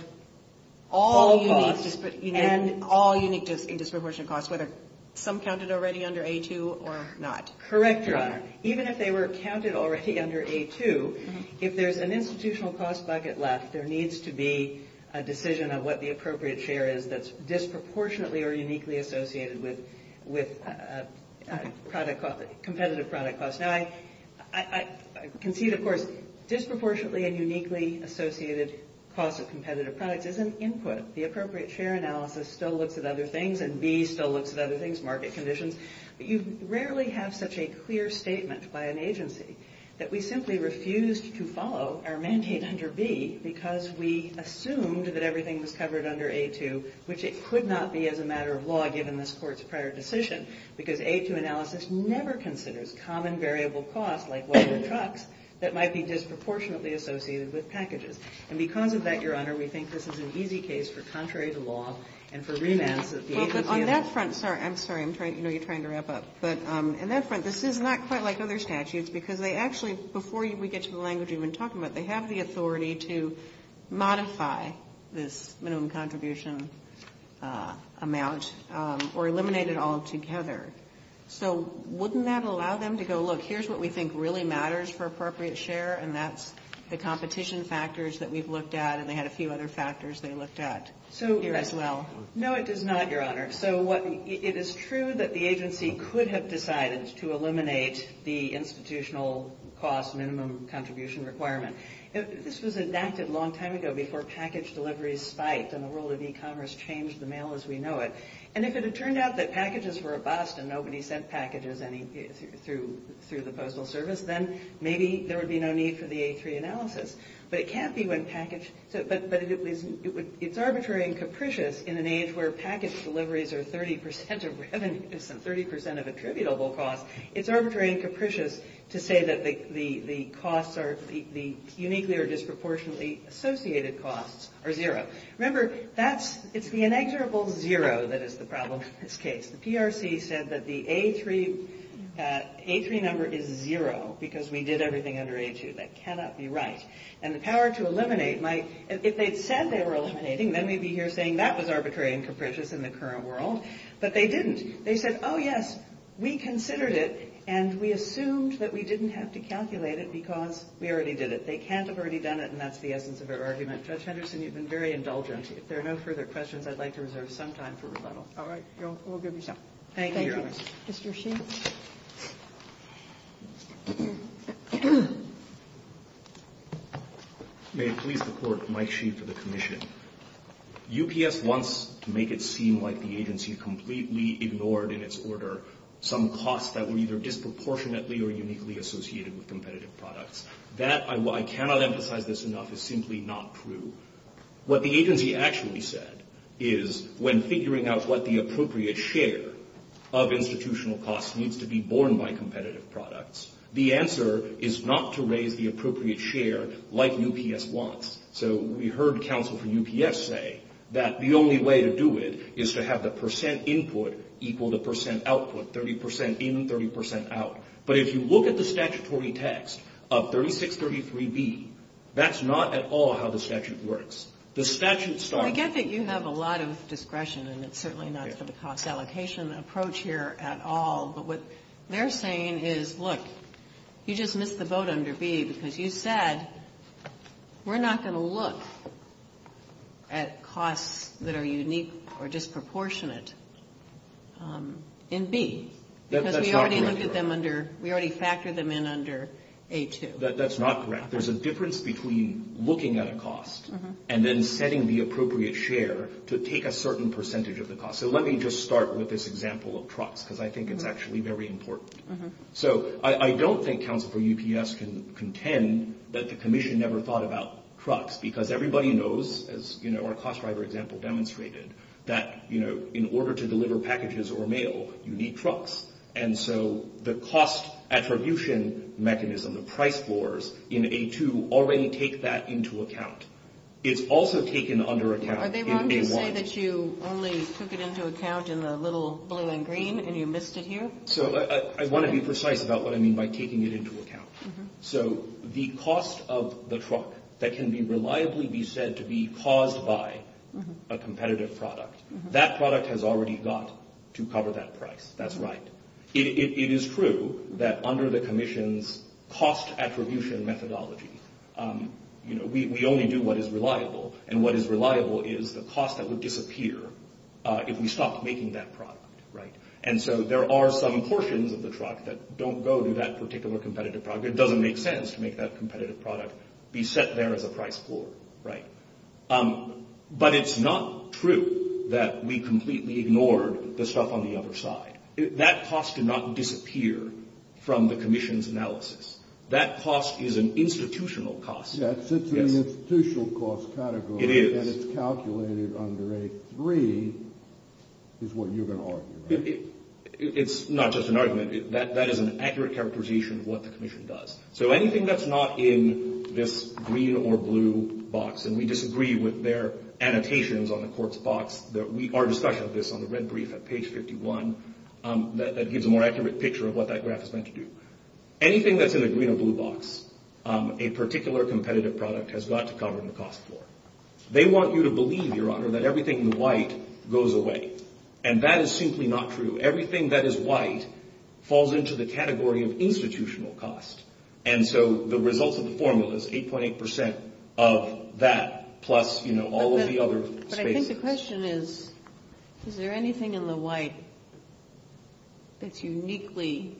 all unique and disproportionate costs, whether some counted already under A2 or not. Correct, Your Honor. Even if they were counted already under A2, if there's an institutional cost bucket left, there needs to be a decision of what the appropriate share is that's disproportionately or uniquely associated with competitive product costs. Now, I concede, of course, disproportionately and uniquely associated costs of competitive product isn't input. The appropriate share analysis still looks at other things, and B still looks at other things, market conditions, but you rarely have such a clear statement by an agency that we simply refused to follow our mandate under B because we assumed that everything was covered under A2, which it could not be as a matter of law, given this Court's prior decision, because A2 analysis never considers common variable costs, like water and trucks, that might be disproportionately associated with packages. And because of that, Your Honor, we think this is an easy case for contrary to law and for remand. On that front – sorry, I'm sorry. I know you're trying to wrap up, but on that front, this is not quite like other statutes because they actually – before we get to the language we've been talking about, they have the authority to modify this minimum contribution amount or eliminate it altogether. So wouldn't that allow them to go, look, here's what we think really matters for appropriate share, and that's the competition factors that we've looked at, and they had a few other factors they looked at here as well? No, it does not, Your Honor. So it is true that the agency could have decided to eliminate the institutional cost minimum contribution requirement. This was enacted a long time ago before package delivery spiked and the world of e-commerce changed the mail as we know it. And if it had turned out that packages were a bust and nobody sent packages through the postal service, then maybe there would be no need for the A3 analysis. But it can't be when package – but it's arbitrary and capricious in an age where package deliveries are 30 percent – 30 percent of a tributable cost. It's arbitrary and capricious to say that the costs are – the uniquely or disproportionately associated costs are zero. Remember, that's – it's the inexorable zero that is the problem in this case. The PRC said that the A3 number is zero because we did everything under A2. That cannot be right. And the power to eliminate might – if they said they were eliminating, then we'd be here saying that was arbitrary and capricious in the current world. But they didn't. They said, oh, yes, we considered it and we assumed that we didn't have to calculate it because we already did it. They can't have already done it, and that's the essence of their argument. Judge Henderson, you've been very indulgent. If there are no further questions, I'd like to reserve some time for rebuttal. All right. We'll give you some time. Thank you. Thank you, Mr. Sheehan. May I please report, Mike Sheehan for the Commission. UPS wants to make it seem like the agency completely ignored, in its order, some costs that were either disproportionately or uniquely associated with competitive products. That – I cannot emphasize this enough – is simply not true. What the agency actually said is when figuring out what the appropriate share of institutional costs needs to be borne by competitive products, the answer is not to raise the appropriate share like UPS wants. So we heard counsel from UPS say that the only way to do it is to have the percent input equal the percent output, 30 percent in, 30 percent out. But if you look at the statutory text of 3633B, that's not at all how the statute works. The statute – I get that you have a lot of discretion, and it's certainly not for the cost allocation approach here at all. But what they're saying is, look, you just missed the vote under B because you said we're not going to look at costs that are unique or disproportionate in B. That's not correct. Because we already looked at them under – we already factored them in under H2. That's not correct. There's a difference between looking at a cost and then setting the appropriate share to take a certain percentage of the cost. So let me just start with this example of trucks, because I think it's actually very important. So I don't think counsel from UPS can contend that the commission never thought about trucks, because everybody knows, as our cost driver example demonstrated, that in order to deliver packages or mail, you need trucks. And so the cost attribution mechanism, the price scores in A2 already take that into account. It's also taken under account in A1. Are they wrong to say that you only took it into account in the little blue and green, and you missed it here? So I want to be precise about what I mean by taking it into account. So the cost of the truck that can reliably be said to be caused by a competitive product, that product has already got to cover that price. That's right. It is true that under the commission's cost attribution methodology, we only do what is reliable, and what is reliable is the cost that would disappear if we stopped making that product, right? And so there are some portions of the truck that don't go to that particular competitive product. It doesn't make sense to make that competitive product be set there as a price score, right? But it's not true that we completely ignored the stuff on the other side. That cost did not disappear from the commission's analysis. That cost is an institutional cost. Yes, it's an institutional cost category. It is. And it's calculated under A3 is what you're going to argue. It's not just an argument. That is an accurate characterization of what the commission does. So anything that's not in this green or blue box, and we disagree with their annotations on the court's box. We are discussing this on the red brief at page 51. That gives a more accurate picture of what that graph is meant to do. Anything that's in the green or blue box, a particular competitive product has got to cover the cost score. They want you to believe, Your Honor, that everything in white goes away. And that is simply not true. Everything that is white falls into the category of institutional cost. And so the result of the formula is 8.8% of that plus, you know, all of the other space. But I think the question is, is there anything in the white that's uniquely,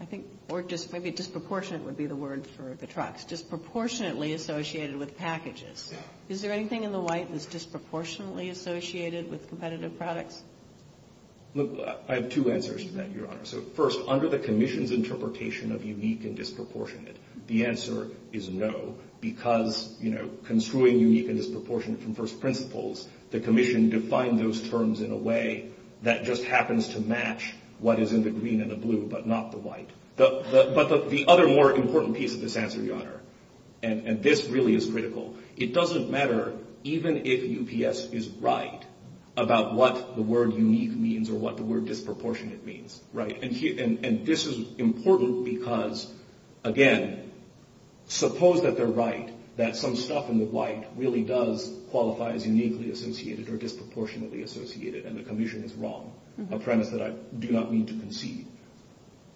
I think, or just maybe disproportionate would be the word for the trucks, disproportionately associated with packages. Is there anything in the white that's disproportionately associated with competitive products? Look, I have two answers to that, Your Honor. So first, under the commission's interpretation of unique and disproportionate, the answer is no. Because, you know, construing unique and disproportionate from first principles, the commission defined those terms in a way that just happens to match what is in the green and the blue but not the white. But the other more important piece of this answer, Your Honor, and this really is critical, it doesn't matter even if UPS is right about what the word unique means or what the word disproportionate means. Right, and this is important because, again, suppose that they're right, that some stuff in the white really does qualify as uniquely associated or disproportionately associated, and the commission is wrong, a premise that I do not mean to concede.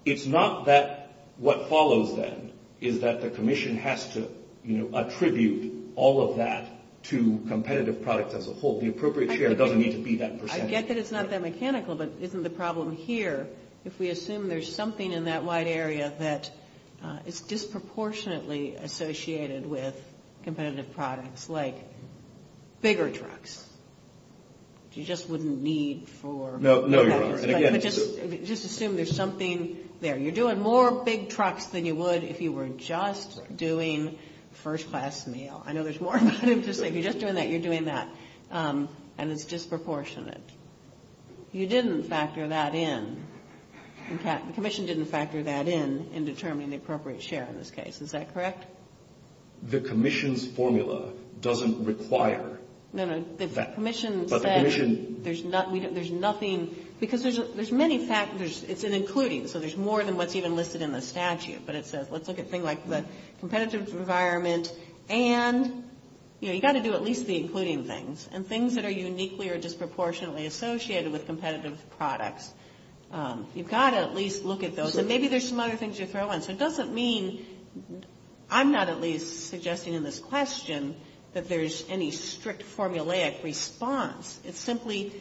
It's not that what follows then is that the commission has to, you know, attribute all of that to competitive products as a whole. The appropriate share doesn't need to be that percentage. I get that it's not that mechanical, but isn't the problem here if we assume there's something in that white area that is disproportionately associated with competitive products, like bigger trucks? You just wouldn't need for- No, Your Honor, again- Just assume there's something there. You're doing more big trucks than you would if you were just doing first class mail. I know there's more. If you're just doing that, you're doing that, and it's disproportionate. You didn't factor that in. The commission didn't factor that in in determining the appropriate share in this case. Is that correct? The commission's formula doesn't require- No, no, the commission said there's nothing, because there's many factors. It's an including, so there's more than what's even listed in the statute, but it says let's look at things like the competitive environment, and you've got to do at least the including things, and things that are uniquely or disproportionately associated with competitive products. You've got to at least look at those, and maybe there's some other things you throw in. So it doesn't mean I'm not at least suggesting in this question that there's any strict formulaic response. It simply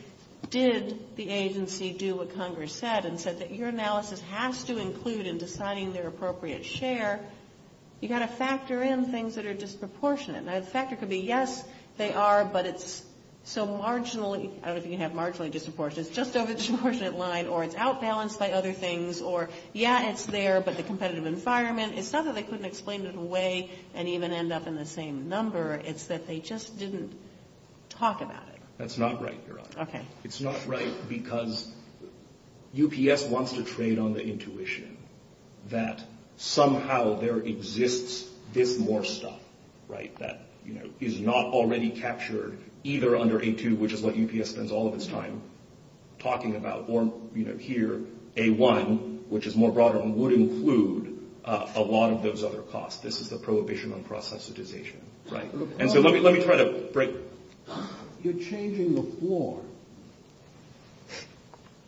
did the agency do what Congress said and said that your analysis has to include in deciding their appropriate share. You've got to factor in things that are disproportionate. That factor could be, yes, they are, but it's so marginally- I don't know if you can have marginally disproportionate. It's just over the disproportionate line, or it's outbalanced by other things, or, yeah, it's there, but the competitive environment. It's not that they couldn't explain it away and even end up in the same number. It's that they just didn't talk about it. That's not right, Caroline. Okay. It's not right because UPS wants to trade on the intuition that somehow there exists this more stuff, right, that is not already captured either under A2, which is what UPS spends all of its time talking about, or here, A1, which is more broad, and would include a lot of those other costs. This is the prohibition on process utilization, right? Let me try that. Great. You're changing the floor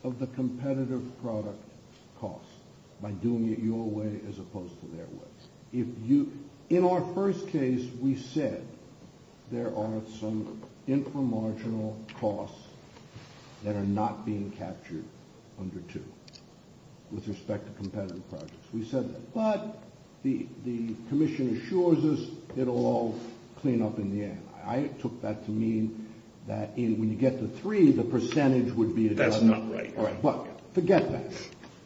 of the competitive product cost by doing it your way as opposed to their way. In our first case, we said there are some inframarginal costs that are not being captured under 2 with respect to competitive projects. We said, but the commission assures us it'll all clean up in the end. I took that to mean that when you get to 3, the percentage would be a different number. That's not right. But forget that.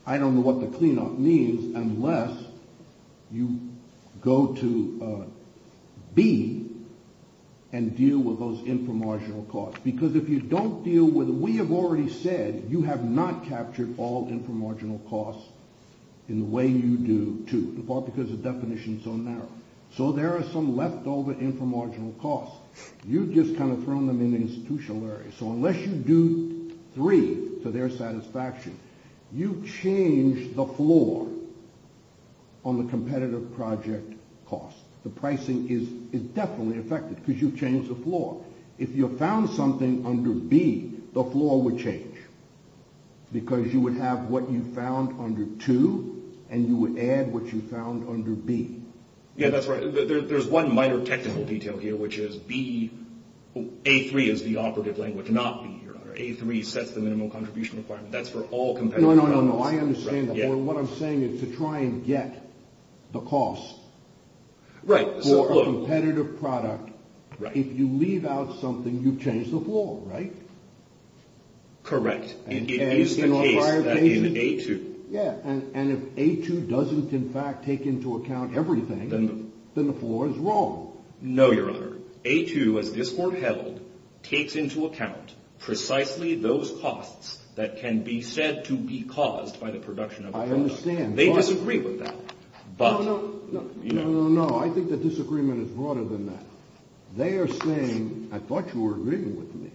I don't know what the cleanup means unless you go to B and deal with those inframarginal costs, because if you don't deal with it, we have already said you have not captured all inframarginal costs in the way you do 2. It's all because the definition is so narrow. So there are some leftover inframarginal costs. You've just kind of thrown them in the institutional area. So unless you do 3 to their satisfaction, you've changed the floor on the competitive project cost. If you found something under B, the floor would change, because you would have what you found under 2, and you would add what you found under B. Yeah, that's right. There's one minor technical detail here, which is B, A3 is the operative language, not B. A3 sets the minimum contribution requirement. That's for all competitive products. No, no, no. I understand that. What I'm saying is to try and get the cost for a competitive product, if you leave out something, you've changed the floor, right? Correct. And if A2 doesn't, in fact, take into account everything, then the floor is wrong. No, Your Honor. A2, as this Court held, takes into account precisely those costs that can be said to be caused by the production of a product. I understand. They disagree with that. No, no, no. I think the disagreement is harder than that. They are saying, I thought you were agreeing with me,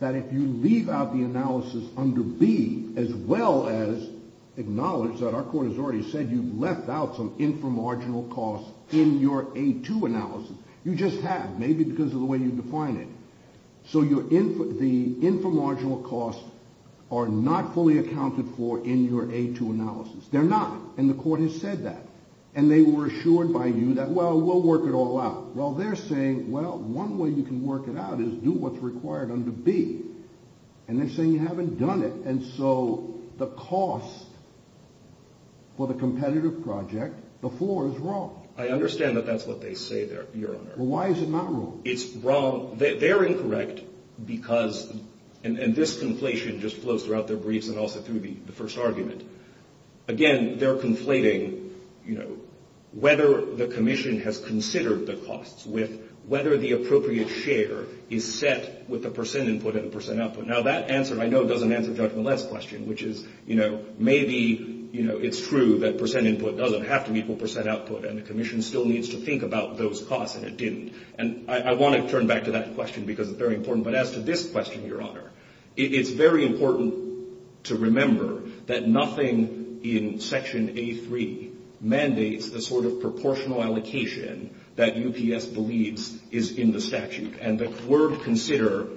that if you leave out the analysis under B, as well as acknowledge that our Court has already said you've left out some inframarginal costs in your A2 analysis. You just have, maybe because of the way you define it. So the inframarginal costs are not fully accounted for in your A2 analysis. They're not, and the Court has said that, and they were assured by you that, well, we'll work it all out. Well, they're saying, well, one way you can work it out is do what's required under B. And they're saying you haven't done it, and so the cost for the competitive project, the floor is wrong. I understand that that's what they say there, Your Honor. Well, why is it not wrong? It's wrong, they're incorrect because, and this conflation just flows throughout the briefs and also through the first argument. Again, they're conflating, you know, whether the Commission has considered the costs with whether the appropriate share is set with a percent input and a percent output. Now, that answer, I know, doesn't answer Judge Millett's question, which is, you know, maybe, you know, it's true that percent input doesn't have to equal percent output, and the Commission still needs to think about those costs, and it didn't. And I want to turn back to that question because it's very important. But as to this question, Your Honor, it is very important to remember that nothing in Section A.3 mandates a sort of proportional allocation that UPS believes is in the statute. And the word consider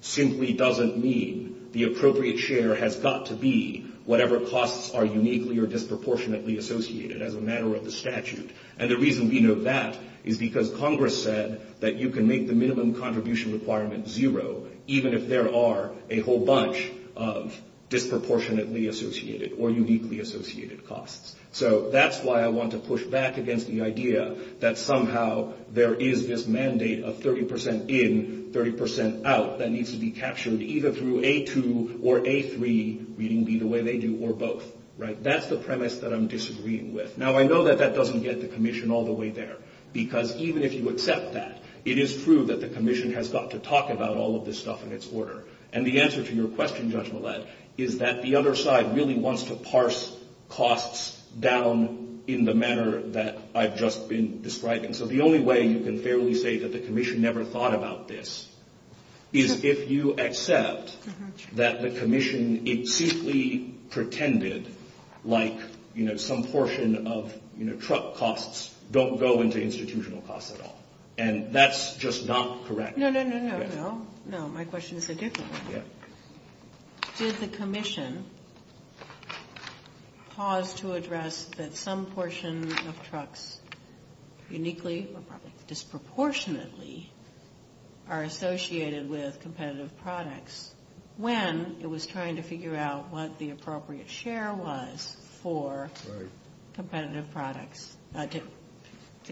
simply doesn't mean the appropriate share has got to be whatever costs are uniquely or disproportionately associated as a matter of the statute. And the reason we know that is because Congress said that you can make the minimum contribution requirement zero, even if there are a whole bunch of disproportionately associated or uniquely associated costs. So that's why I want to push back against the idea that somehow there is this mandate of 30 percent in, 30 percent out, that needs to be captured either through A.2 or A.3, reading B the way they do, or both. Right? That's the premise that I'm disagreeing with. Now, I know that that doesn't get the Commission all the way there, because even if you accept that, it is true that the Commission has got to talk about all of this stuff in its order. And the answer to your question, Judge Millett, is that the other side really wants to parse costs down in the manner that I've just been describing. So the only way you can fairly say that the Commission never thought about this is if you accept that the Commission simply pretended like some portion of truck costs don't go into institutional costs at all. And that's just not correct. No, no, no, no, no. No, my question is a different one. Does the Commission cause to address that some portions of trucks uniquely or disproportionately are associated with competitive products when it was trying to figure out what the appropriate share was for competitive products? I don't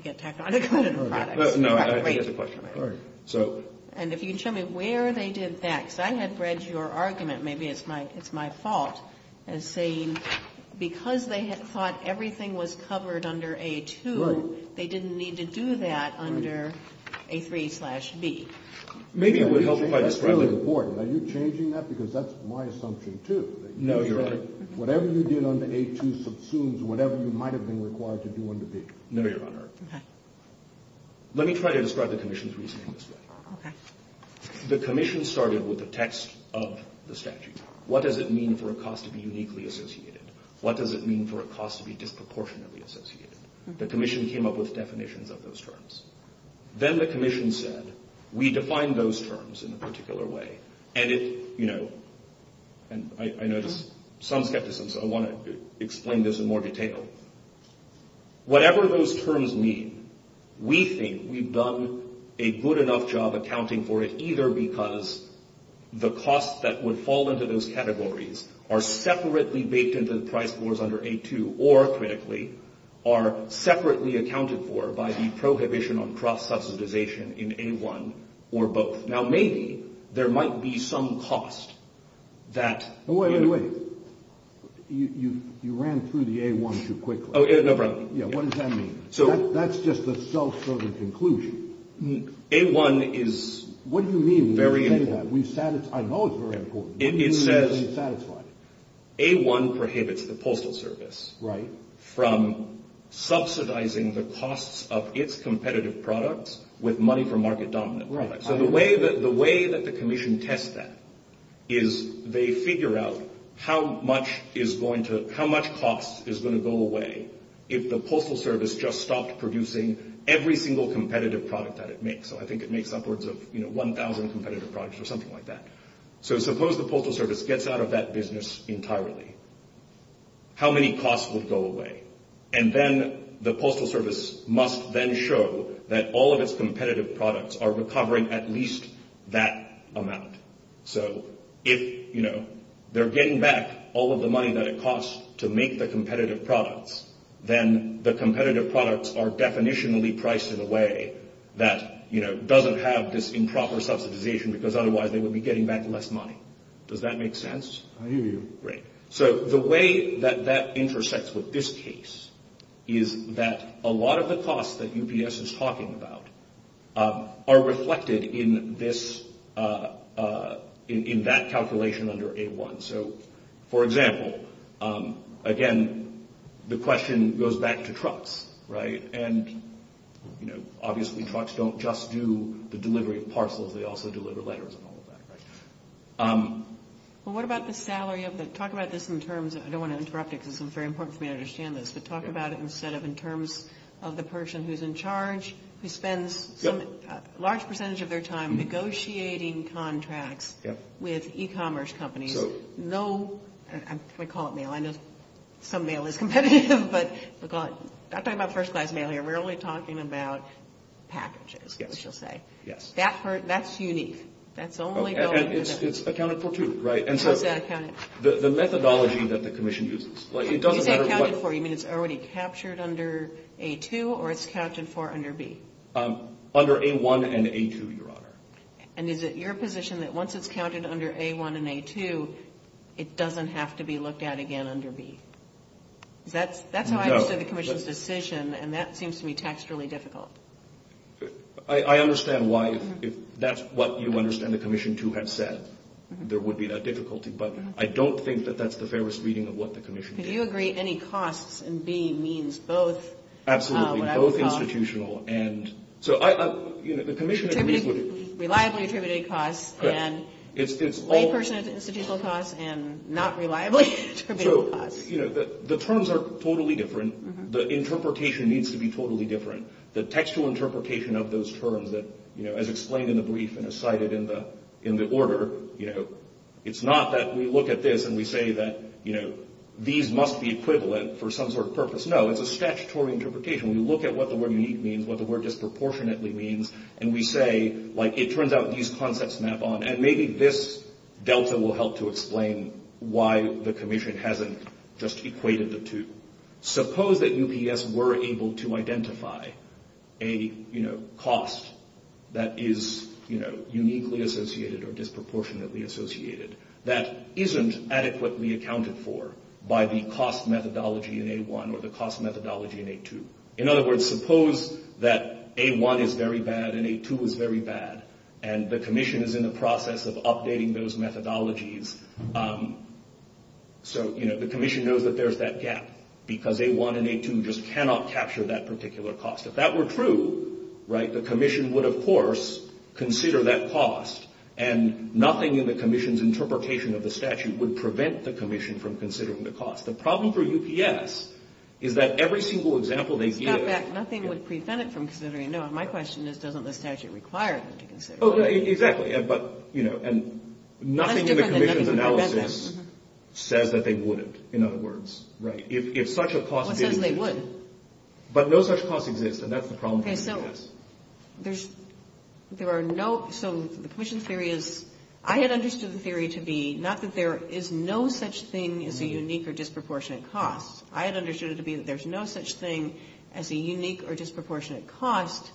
know about that. No, I think it's a question. Right. And if you can tell me where they did that. Because I had read your argument, maybe it's my fault, as saying because they had thought everything was covered under A.2, they didn't need to do that under A.3-B. Maybe it was helped by the scope of the board. Are you changing that? Because that's my assumption, too. No, Your Honor. No, Your Honor. Okay. Let me try to describe the Commission's reasoning instead. Okay. The Commission started with the text of the statute. What does it mean for a cost to be uniquely associated? What does it mean for a cost to be disproportionately associated? The Commission came up with definitions of those terms. Then the Commission said, we defined those terms in a particular way. And it's, you know, and I noticed some skepticism, so I want to explain this in more detail. Whatever those terms mean, we think we've done a good enough job accounting for it, either because the costs that would fall into those categories are separately baked into the price boards under A.2 or, critically, are separately accounted for by the prohibition on cross-subsidization in A.1 or both. Now, maybe there might be some cost that... Wait, wait, wait. You ran through the A.1 too quickly. No problem. Yeah, what does that mean? That's just a self-serving conclusion. A.1 is very important. What do you mean? I know it's very important. It says A.1 prohibits the Postal Service from subsidizing the costs of its competitive products with money for market dominance. Right. So the way that the Commission tests that is they figure out how much cost is going to go away if the Postal Service just stopped producing every single competitive product that it makes. I think it makes upwards of 1,000 competitive products or something like that. So suppose the Postal Service gets out of that business entirely. How many costs would go away? And then the Postal Service must then show that all of its competitive products are recovering at least that amount. So if they're getting back all of the money that it costs to make the competitive products, then the competitive products are definitionally priced in a way that doesn't have this improper subsidization because otherwise they would be getting back less money. Does that make sense? I hear you. Great. So the way that that intersects with this case is that a lot of the costs that UPS is talking about are reflected in that calculation under A.1. So, for example, again, the question goes back to trucks, right? And, you know, obviously trucks don't just do the delivery of parcels. They also deliver letters and all of that, right? Well, what about the salary? Talk about this in terms of – I don't want to interrupt you because it's very important for me to understand this. But talk about it instead of in terms of the person who's in charge, who spends a large percentage of their time negotiating contracts with e-commerce companies. I'm going to call it mail. I know some mail is competitive, but I'm talking about first-class mail here. We're only talking about packages, shall we say. Yes. That's unique. And it's accounted for, too, right? And so the methodology that the Commission uses – You said accounted for. You mean it's already captured under A.2 or it's captured for under B? Under A.1 and A.2, Your Honor. And is it your position that once it's counted under A.1 and A.2, it doesn't have to be looked at again under B? That's how I understand the Commission's decision, and that seems to me texturally difficult. I understand why. If that's what you understand the Commission, too, has said, there would be that difficulty. But I don't think that that's the fairest reading of what the Commission did. Do you agree any costs in B means both? Absolutely. Both institutional and – so, you know, the Commission agreed with – Reliably attributed costs and – It's all – Old-person institutional costs and not reliably attributed costs. So, you know, the terms are totally different. The interpretation needs to be totally different. The textual interpretation of those terms that, you know, as explained in the brief and as cited in the order, you know, it's not that we look at this and we say that, you know, these must be equivalent for some sort of purpose. No, it's a statutory interpretation. We look at what the word means, what the word disproportionately means, and we say, like, it turns out these concepts map on. And maybe this delta will help to explain why the Commission hasn't just equated the two. Suppose that UPS were able to identify a, you know, cost that is, you know, uniquely associated or disproportionately associated that isn't adequately accounted for by the cost methodology in A1 or the cost methodology in A2. In other words, suppose that A1 is very bad and A2 is very bad, and the Commission is in the process of updating those methodologies. So, you know, the Commission knows that there's that gap because A1 and A2 just cannot capture that particular cost. If that were true, right, the Commission would, of course, consider that cost, and nothing in the Commission's interpretation of the statute would prevent the Commission from considering the cost. The problem for UPS is that every single example they give... Not that nothing would prevent it from considering. No, my question is, doesn't the statute require them to consider? Oh, exactly. But, you know, and nothing in the Commission's analysis says that they wouldn't, in other words. Right. If such a cost... But then they would. But no such cost exists, and that's the problem for UPS. There are no... So the Commission's theory is... I had understood the theory to be not that there is no such thing as a unique or disproportionate cost. I had understood it to be that there's no such thing as a unique or disproportionate cost,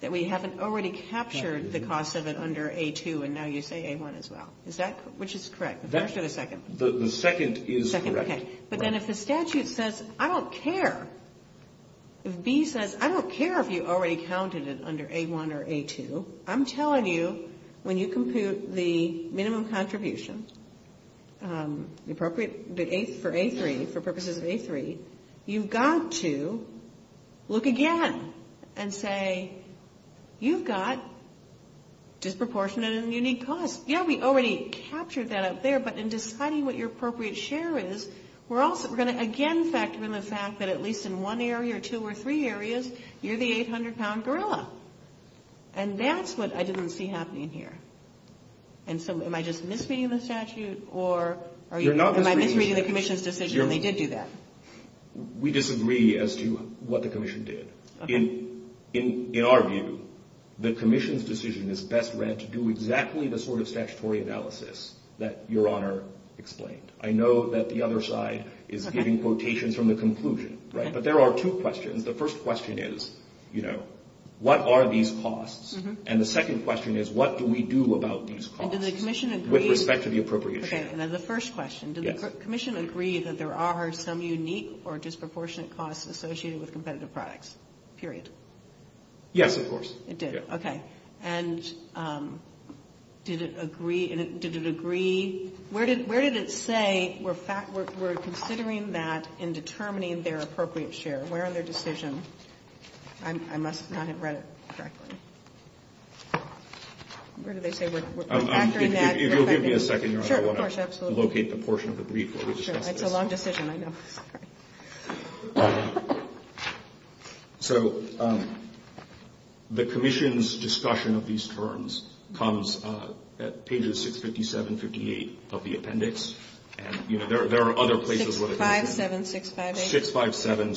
that we haven't already captured the cost of it under A2, and now you say A1 as well. Is that, which is correct? Does that give a second? The second is correct. But then if the statute says, I don't care. If B says, I don't care if you already counted it under A1 or A2. I'm telling you, when you compute the minimum contribution for purposes of A3, you've got to look again and say, you've got disproportionate and unique costs. Yeah, we already captured that up there, but in deciding what your appropriate share is, we're going to again factor in the fact that at least in one area or two or three areas, you're the 800-pound gorilla. And that's what I didn't see happening here. And so am I just misreading the statute, or am I misreading the commission's decision that they did do that? We disagree as to what the commission did. In our view, the commission's decision is best read to do exactly the sort of statutory analysis that Your Honor explained. I know that the other side is giving quotations from the conclusion, but there are two questions. The first question is, you know, what are these costs? And the second question is, what do we do about these costs with respect to the appropriate share? And as a first question, does the commission agree that there are some unique or disproportionate costs associated with competitive products, period? Yes, of course. It did, okay. And did it agree? Did it agree? Where did it say we're considering that in determining their appropriate share? Where are their decisions? I must not have read it correctly. Where did they say we're factoring that? If you'll give me a second, Your Honor, I want to locate the portion of the brief. Sure, it's a long decision, I know. So, the commission's discussion of these terms comes at pages 657, 658 of the appendix. And, you know, there are other places where they're coming from. 657, 658.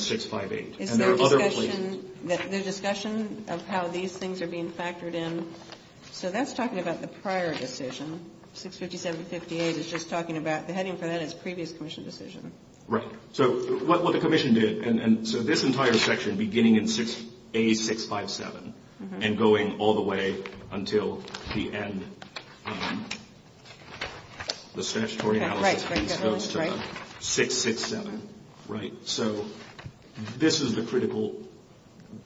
657, 658. And there are other places. The discussion of how these things are being factored in, so that's talking about the prior decision. 657, 658 is just talking about the heading for that is previous commission decision. Right. So, what the commission did, and so this entire section, beginning in A657 and going all the way until the end, the statutory appendix goes to 667, right? So, this is the critical,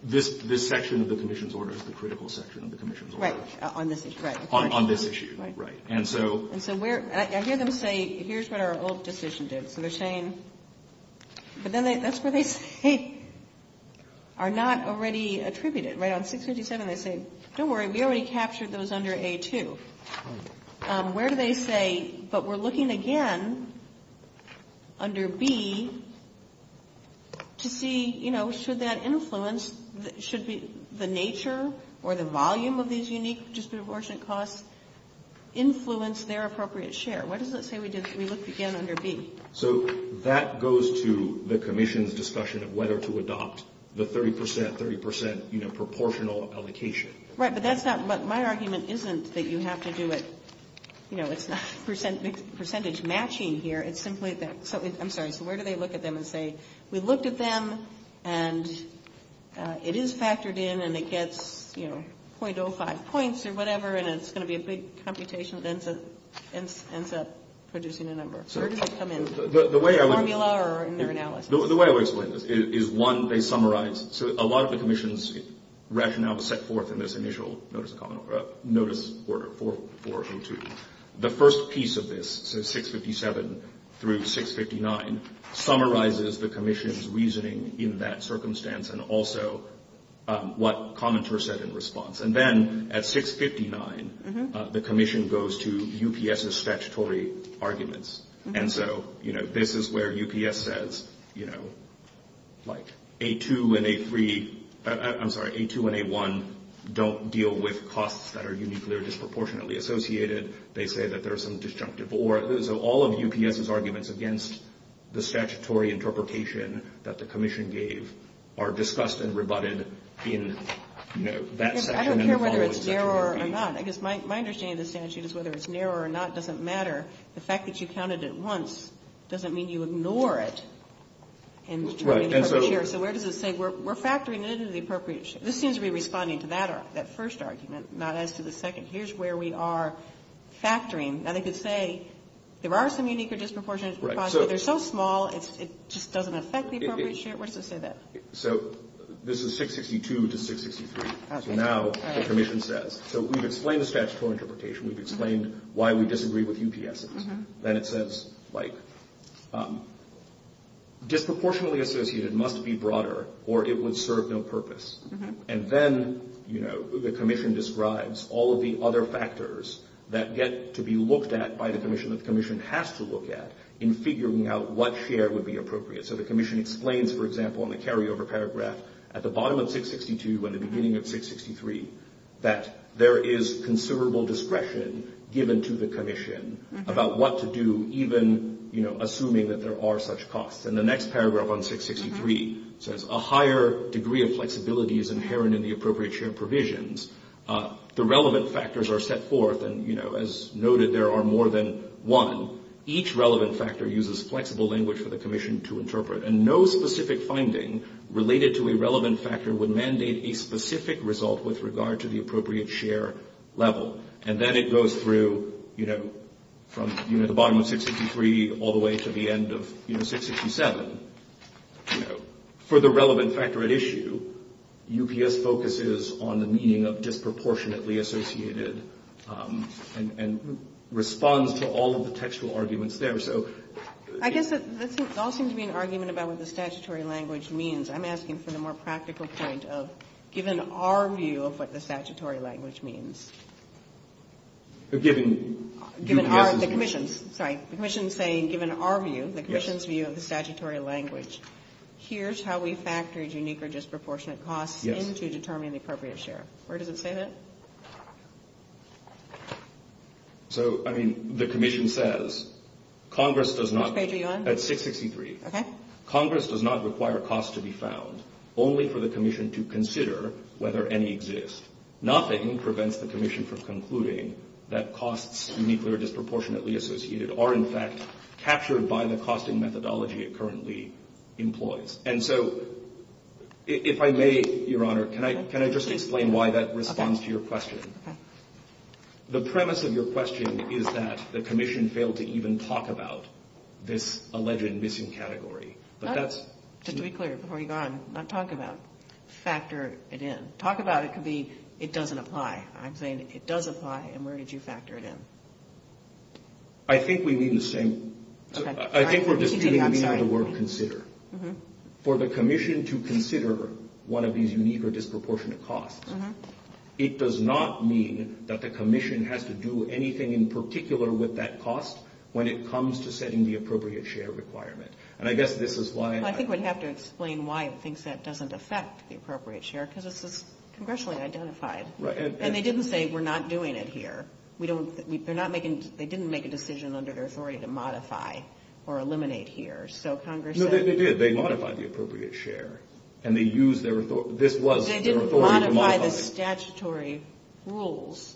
this section of the commission's order is the critical section of the commission's order. Right, on this issue. On this issue, right. And so, I hear them say, here's what our old decision did. And they're saying, but then that's what they say are not already attributed. Right, on 657 they say, don't worry, we already captured those under A2. Where do they say, but we're looking again under B to see, you know, should that influence, should the nature or the volume of these unique disproportionate costs influence their appropriate share? What does it say we looked again under B? So, that goes to the commission's discussion of whether to adopt the 30%, 30%, you know, proportional application. Right, but that's not, my argument isn't that you have to do it, you know, it's not percentage matching here. It's simply that, I'm sorry, where do they look at them and say, we looked at them and it is factored in and it gets, you know, 0.05 points or whatever and it's going to be a big computation and ends up reducing the number. Where do they come in? The way I would explain this is one, they summarize, so a lot of the commission's rationale set forth in this initial notice order, 402. The first piece of this, so 657 through 659, summarizes the commission's reasoning in that circumstance and also what the commenter said in response. And then at 659, the commission goes to UPS's statutory arguments. And so, you know, this is where UPS says, you know, like A2 and A3, I'm sorry, A2 and A1 don't deal with costs that are uniquely or disproportionately associated. They say that there are some disjunctive or, so all of UPS's arguments against the statutory interpretation that the commission gave are discussed and rebutted in that section. I don't care whether it's there or not. I guess my understanding of the statute is whether it's there or not doesn't matter. The fact that you counted it once doesn't mean you ignore it. So where does it say, we're factoring it into the appropriations? This seems to be responding to that first argument, not as to the second. Here's where we are factoring. Now, they could say there are some unique or disproportionate costs, but they're so small it just doesn't affect the appropriations. What does it say there? So this is 662 to 663. So now the commission says, so we've explained the statutory interpretation. We've explained why we disagree with UPS's. Then it says, like, disproportionately associated must be broader or it would serve no purpose. And then, you know, the commission describes all of the other factors that get to be looked at by the commission that the commission has to look at in figuring out what share would be appropriate. So the commission explains, for example, in the carryover paragraph, at the bottom of 662 and the beginning of 663, that there is considerable discretion given to the commission about what to do even, you know, assuming that there are such costs. And the next paragraph on 663 says a higher degree of flexibility is inherent in the appropriate share provisions. The relevant factors are set forth, and, you know, as noted there are more than one. Each relevant factor uses flexible language for the commission to interpret, and no specific finding related to a relevant factor would mandate a specific result with regard to the appropriate share level. And then it goes through, you know, from the bottom of 663 all the way to the end of 667. For the relevant factor at issue, UPS focuses on the meaning of disproportionately associated and responds to all of the textual arguments there. I guess this all seems to be an argument about what the statutory language means. I'm asking from the more practical point of, given our view of what the statutory language means. The commission is saying given our view, the commission's view of the statutory language, here's how we factor a unique or disproportionate cost into determining the appropriate share. Where does it say that? So, I mean, the commission says, Congress does not require costs to be found, only for the commission to consider whether any exist. Nothing prevents the commission from concluding that costs uniquely or disproportionately associated are in fact captured by the costing methodology it currently employs. And so, if I may, Your Honor, can I just explain why that responds to your question? The premise of your question is that the commission failed to even talk about this alleged missing category. Just to be clear, before you go on, not talk about, factor it in. Talk about it could be it doesn't apply. I'm saying it does apply and where did you factor it in? I think we need the same. I think we're just getting behind the word consider. For the commission to consider one of these unique or disproportionate costs, it does not mean that the commission has to do anything in particular with that cost when it comes to setting the appropriate share requirement. And I guess this is why... I think we'd have to explain why it thinks that doesn't affect the appropriate share because this is congressionally identified. And they didn't say we're not doing it here. They didn't make a decision under their authority to modify or eliminate here. No, they did. They modified the appropriate share and they used their authority. This was their authority to modify. They didn't modify the statutory rules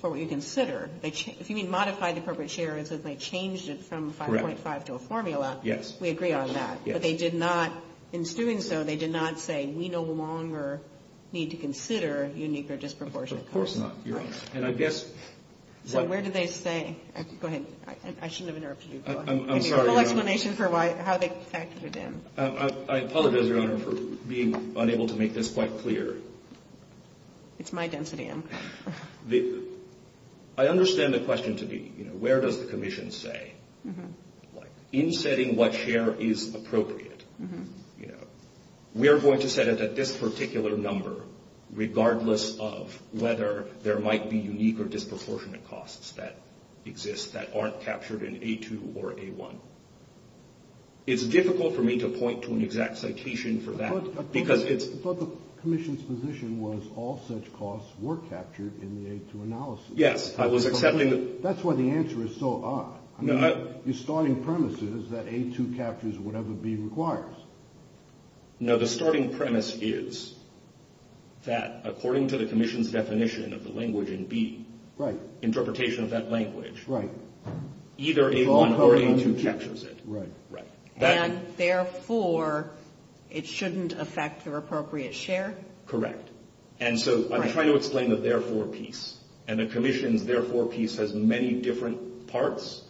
for what you consider. If you mean modify the appropriate share, because they changed it from a 5.5 to a formula, we agree on that. But they did not, in doing so, they did not say we no longer need to consider unique or disproportionate costs. Of course not, you're right. And I guess... So where do they say? Go ahead. I shouldn't have interrupted you. I'm sorry. Maybe a quick explanation for how they factored it in. I apologize, Your Honor, for being unable to make this quite clear. It's my density. I understand the question to be, you know, where does the Commission say, in setting what share is appropriate, you know, we are going to set it at this particular number, regardless of whether there might be unique or disproportionate costs that exist that aren't captured in A2 or A1. It's difficult for me to point to an exact citation for that. I thought the Commission's position was all such costs were captured in the A2 analysis. Yes. That's why the answer is so odd. The starting premise is that A2 captures whatever B requires. No, the starting premise is that, according to the Commission's definition of the language in B, interpretation of that language, either A1 or A2 captures it. Right. And, therefore, it shouldn't affect the appropriate share? Correct. And so I'm trying to explain the therefore piece. And the Commission's therefore piece has many different parts.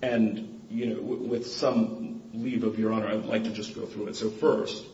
And, you know, with some leave of your honor, I'd like to just go through it. So, first,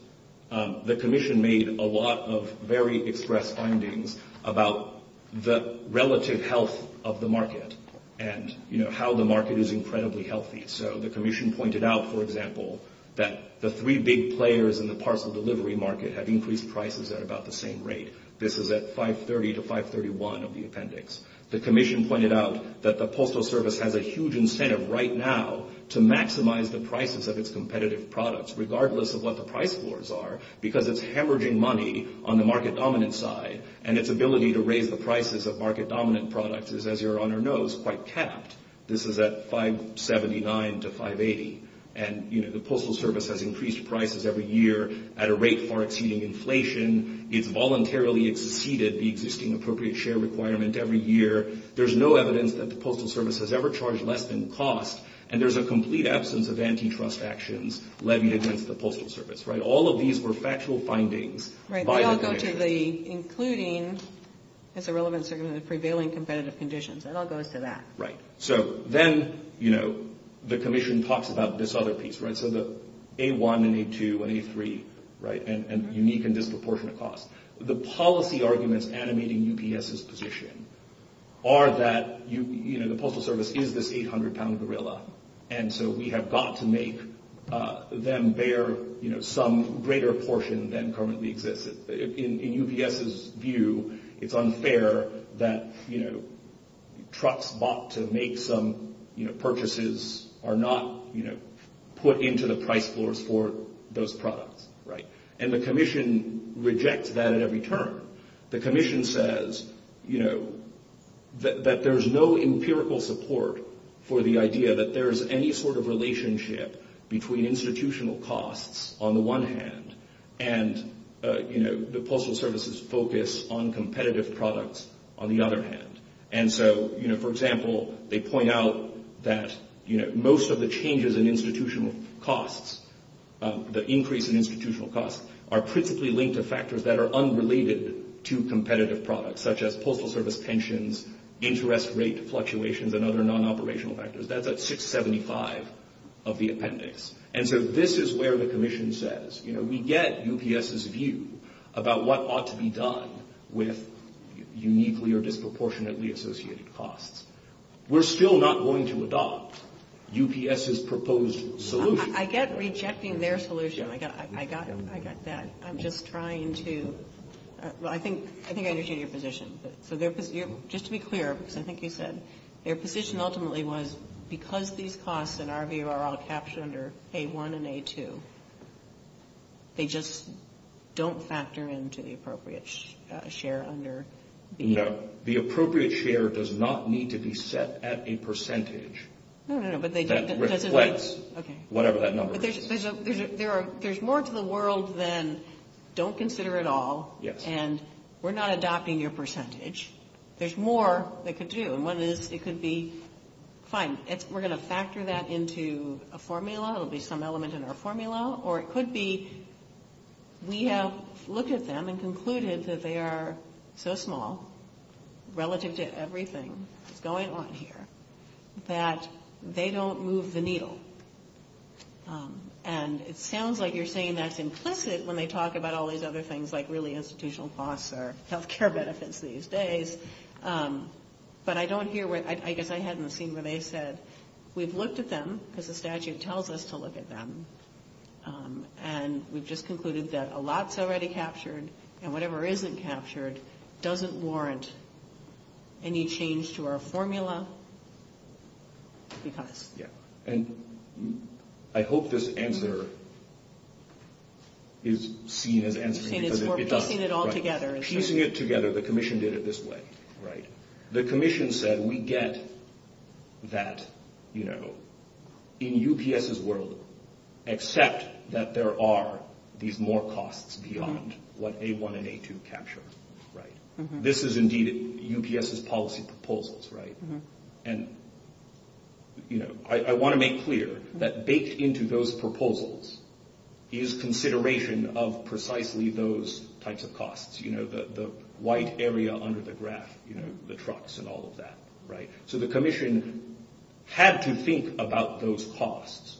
the Commission made a lot of very express findings about the relative health of the market and, you know, how the market is incredibly healthy. So the Commission pointed out, for example, that the three big players in the parcel delivery market have increased prices at about the same rate. This is at 530 to 531 of the appendix. The Commission pointed out that the Postal Service has a huge incentive right now to maximize the prices of its competitive products regardless of what the price boards are because it's hemorrhaging money on the market-dominant side and its ability to raise the prices of market-dominant products is, as your honor knows, quite capped. This is at 579 to 580. And, you know, the Postal Service has increased prices every year at a rate far exceeding inflation. It voluntarily exceeded the existing appropriate share requirement every year. There's no evidence that the Postal Service has ever charged less than cost. And there's a complete absence of antitrust actions levied against the Postal Service, right? All of these were factual findings. Right. And I'll go to the including as a relevant segment of the prevailing competitive conditions. And I'll go to that. Right. So then, you know, the Commission talks about this other piece, right? So the A1 and A2 and A3, right, and unique and disproportionate costs. The policy arguments animating UPS's position are that, you know, the Postal Service is this 800-pound gorilla. And so we have got to make them bear, you know, some greater portion than currently exists. In UPS's view, it's unfair that, you know, trucks bought to make some, you know, purchases are not, you know, put into the price floors for those products, right? And the Commission rejects that at every turn. The Commission says, you know, that there's no empirical support for the idea that there's any sort of relationship between institutional costs on the one hand and, you know, the Postal Service's focus on competitive products on the other hand. And so, you know, for example, they point out that, you know, most of the changes in institutional costs, the increase in institutional costs, are principally linked to factors that are unrelated to competitive products, such as Postal Service pensions, interest rate fluctuations, and other non-operational factors. That's at 675 of the appendix. And so this is where the Commission says, you know, we get UPS's view about what ought to be done with uniquely or disproportionately associated costs. We're still not going to adopt UPS's proposed solution. I get rejecting their solution. I got it. I got that. I'm just trying to – well, I think I understand your position. Just to be clear, I think you said, their position ultimately was, because these costs in our view are all captured under A1 and A2, they just don't factor into the appropriate share under the – No, the appropriate share does not need to be set at a percentage. No, no, no, but they – Whatever that number is. There's more to the world than don't consider it all. And we're not adopting your percentage. There's more they could do. And one is it could be, fine, we're going to factor that into a formula. It'll be some element in our formula. Or it could be we have looked at them and concluded that they are so small relative to everything going on here that they don't move the needle. And it sounds like you're saying that's implicit when they talk about all these other things, like really institutional costs or healthcare benefits these days. But I don't hear what – I guess I hadn't seen what they said. We've looked at them, as the statute tells us to look at them, and we've just concluded that a lot's already captured, and whatever isn't captured doesn't warrant any change to our formula because – I hope this answer is seen as – You're saying it's more piecing it all together. Piecing it together. The commission did it this way. The commission said we get that in UPS's world, except that there are these more costs beyond what they want to make to capture. This is indeed UPS's policy proposals. And I want to make clear that baked into those proposals is consideration of precisely those types of costs, the white area under the graph, the trucks and all of that. So the commission had to think about those costs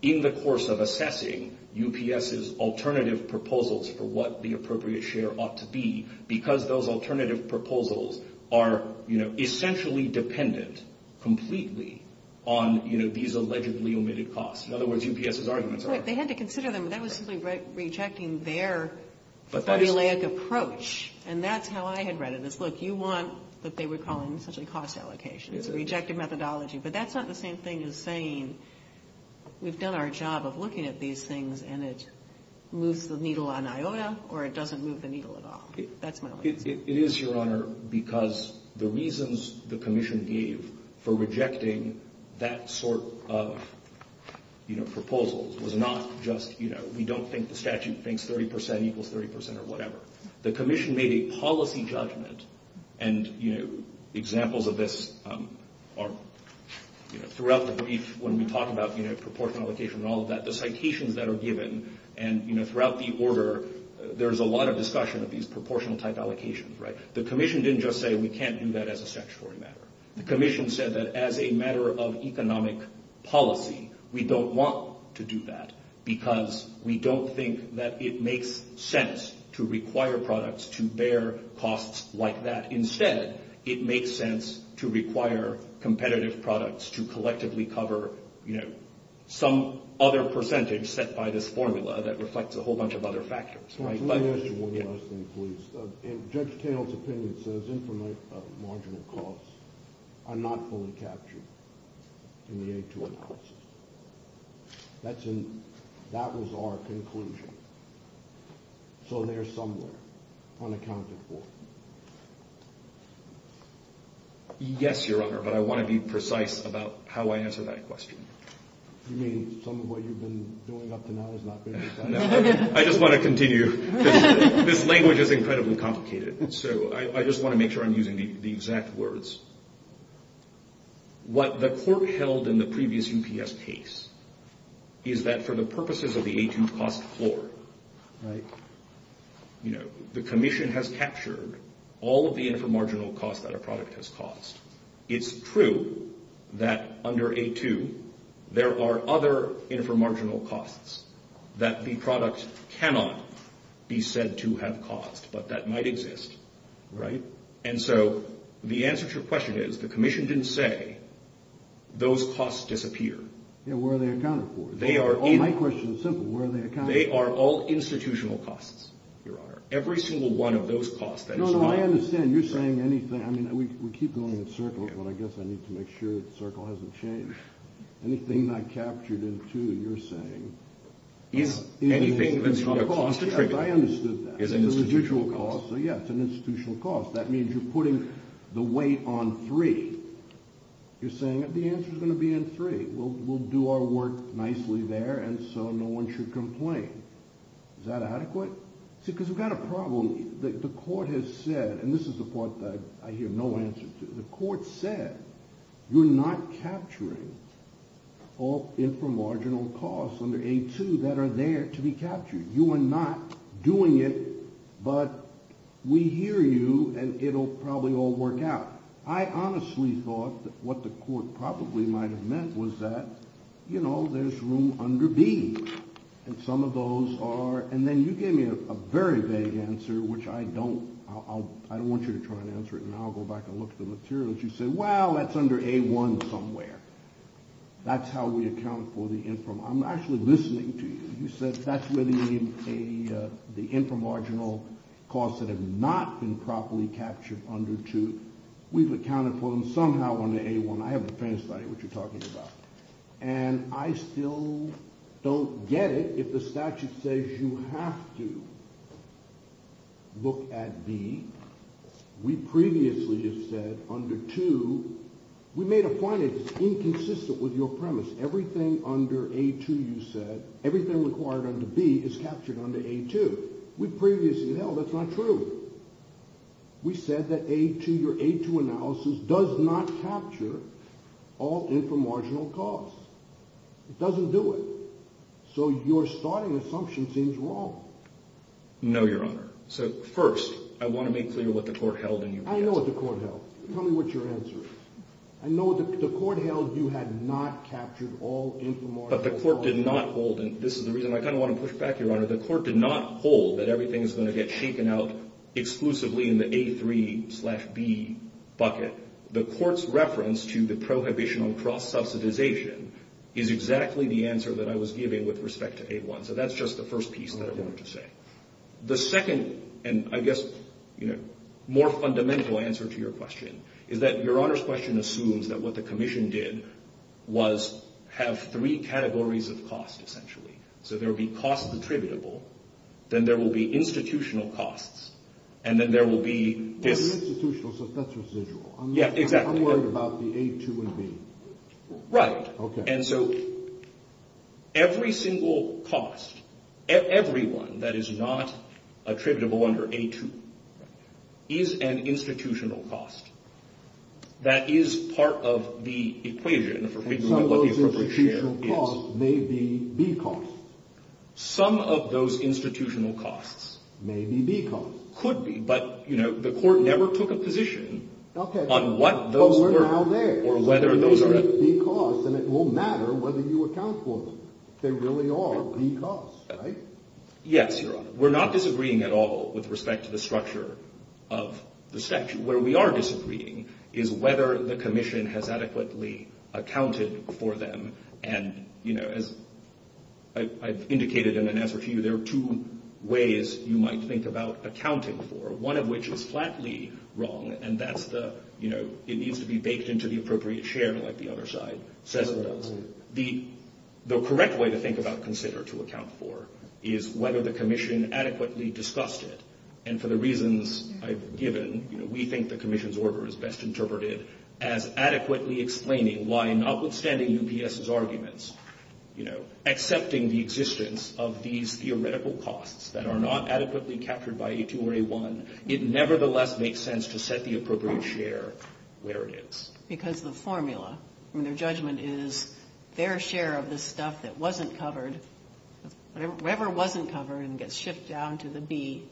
in the course of assessing UPS's alternative proposals for what the appropriate share ought to be, because those alternative proposals are essentially dependent completely on these allegedly omitted costs. In other words, UPS's arguments are – They had to consider them. That was simply rejecting their formulaic approach, and that's how I had read it. It's, look, you want what they were calling essentially cost allocations, a rejected methodology. But that's not the same thing as saying we've done our job of looking at these things and it moves the needle on IOTA or it doesn't move the needle at all. That's my point. It is, Your Honor, because the reasons the commission gave for rejecting that sort of proposal was not just, you know, we don't think the statute thinks 30 percent equals 30 percent or whatever. The commission made a policy judgment, and, you know, examples of this are, you know, when we talk about proportion allocation and all of that, the citations that are given and, you know, throughout the order there's a lot of discussion of these proportional type allocations, right? The commission didn't just say we can't do that as a statutory matter. The commission said that as a matter of economic policy we don't want to do that because we don't think that it makes sense to require products to bear costs like that. Instead, it makes sense to require competitive products to collectively cover, you know, some other percentage set by this formula that reflects a whole bunch of other factors, right? Let me ask you one last thing, please. In Judge Cano's opinion, says incremental marginal costs are not fully captured in the H-1 policy. That was our conclusion. So they're somewhere unaccounted for. Yes, Your Honor, but I want to be precise about how I answer that question. You mean some of what you've been going up to now has not been decided? I just want to continue. This language is incredibly complicated, so I just want to make sure I'm using the exact words. What the court held in the previous UPS case is that for the purposes of the A-2 cost floor, right, you know, the commission has captured all of the inframarginal costs that a product has cost. It's true that under A-2 there are other inframarginal costs that the products cannot be said to have cost, but that might exist, right? And so the answer to your question is the commission didn't say those costs disappear. Where are they accounted for? My question is simple. Where are they accounted for? They are all institutional costs, Your Honor, every single one of those costs. No, no, I understand. You're saying anything. I mean, we keep going in circles, but I guess I need to make sure the circle hasn't changed. Anything I captured in 2 that you're saying is an institutional cost. Yes, I understood that. Yes, an institutional cost. That means you're putting the weight on 3. You're saying the answer is going to be in 3. We'll do our work nicely there, and so no one should complain. Is that adequate? Because we've got a problem. The court has said, and this is the part that I hear no answer to, the court said you're not capturing all inframarginal costs under A-2 that are there to be captured. You are not doing it, but we hear you, and it'll probably all work out. I honestly thought that what the court probably might have meant was that, you know, there's room under B, and some of those are, and then you gave me a very vague answer, which I don't, I don't want you to try and answer it, and I'll go back and look at the materials. You said, well, that's under A-1 somewhere. That's how we account for the inframarginal. I'm actually listening to you. You said that's where the inframarginal costs that have not been properly captured under 2, we've accounted for them somehow under A-1. I have the faintest idea what you're talking about, and I still don't get it if the statute says you have to look at B. We previously have said under 2, we made a point it's inconsistent with your premise. Everything under A-2 you said, everything required under B is captured under A-2. We previously held that's not true. We said that A-2, your A-2 analysis does not capture all inframarginal costs. It doesn't do it. So your starting assumption seems wrong. No, Your Honor. So, first, I want to make clear what the court held in your answer. I know what the court held. Tell me what your answer is. I know the court held you had not captured all inframarginal costs. But the court did not hold, and this is the reason I kind of want to push back, Your Honor. The court did not hold that everything is going to get taken out exclusively in the A-3 slash B bucket. The court's reference to the prohibition on cross-subsidization is exactly the answer that I was giving with respect to A-1. So that's just the first piece that I wanted to say. The second and, I guess, more fundamental answer to your question is that Your Honor's question assumes that what the commission did was have three categories of costs, essentially. So there would be costs attributable. Then there will be institutional costs. And then there will be- Institutional, so that's residual. Exactly. I'm worried about the A-2 and B. Right. Okay. And so every single cost, everyone that is not attributable under A-2, is an institutional cost. That is part of the equation. And some of those institutional costs may be B costs. Some of those institutional costs- May be B costs. Could be, but, you know, the court never took a position- Okay. But we're now there. B costs, and it won't matter whether you account for them. They really are B costs, right? Yes, Your Honor. We're not disagreeing at all with respect to the structure of the section. Where we are disagreeing is whether the commission has adequately accounted for them. And, you know, as I've indicated in an answer to you, there are two ways you might think about accounting for, one of which is flatly wrong. And that's the, you know, it needs to be baked into the appropriate share like the other side says it does. The correct way to think about and consider to account for is whether the commission adequately discussed it. And for the reasons I've given, you know, we think the commission's order is best interpreted as adequately explaining why notwithstanding UPS's arguments, you know, accepting the existence of these theoretical costs that are not adequately captured by A-2 or A-1, it nevertheless makes sense to set the appropriate share where it is. Because the formula from their judgment is their share of the stuff that wasn't covered, whatever wasn't covered and gets shipped down to the B,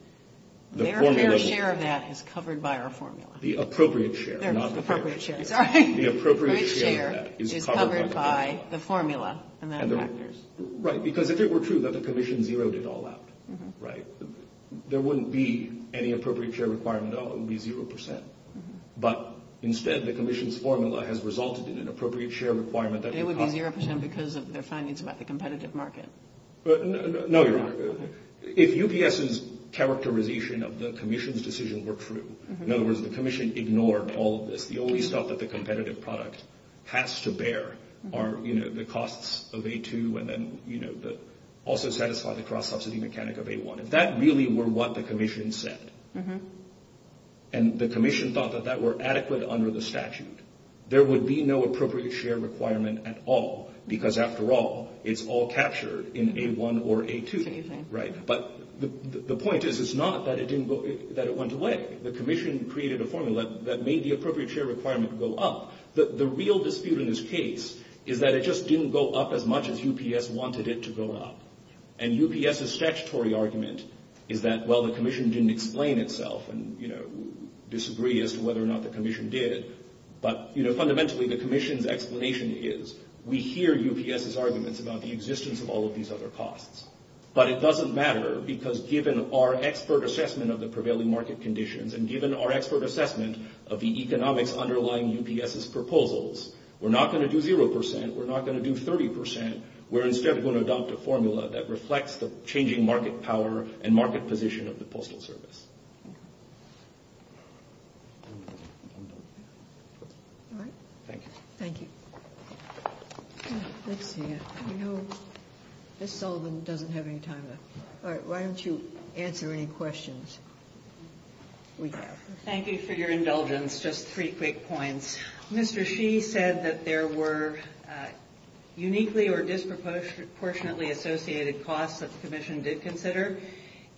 their fair share of that is covered by our formula. The appropriate share. Their appropriate share. The appropriate share is covered by the formula and their factors. Right, because if it were true that the commission zeroed it all out, right, there wouldn't be any appropriate share requirement at all. It would be zero percent. But instead, the commission's formula has resulted in an appropriate share requirement. It would be zero percent because of their findings about the competitive market. No, if UPS's characterization of the commission's decision were true, in other words, the commission ignored all of this. The only stuff that the competitive product has to bear are, you know, the costs of A-2 and then, you know, also satisfy the cross-subsidy mechanic of A-1. If that really were what the commission said, and the commission thought that that were adequate under the statute, there would be no appropriate share requirement at all because, after all, it's all captured in A-1 or A-2. Right, but the point is it's not that it didn't go, that it went away. The commission created a formula that made the appropriate share requirement go up. The real dispute in this case is that it just didn't go up as much as UPS wanted it to go up. And UPS's statutory argument is that, well, the commission didn't explain itself and, you know, disagree as to whether or not the commission did. But, you know, fundamentally, the commission's explanation is we hear UPS's arguments about the existence of all of these other costs. But it doesn't matter because given our expert assessment of the prevailing market conditions and given our expert assessment of the economic underlying UPS's proposals, we're not going to do zero percent. We're not going to do 30 percent. We're instead going to adopt a formula that reflects the changing market power and market position of the Postal Service. Thank you. Thank you. Ms. Sullivan doesn't have any time left. All right, why don't you answer any questions? Thank you for your indulgence. Just three quick points. Mr. Shee said that there were uniquely or disproportionately associated costs that the commission did consider.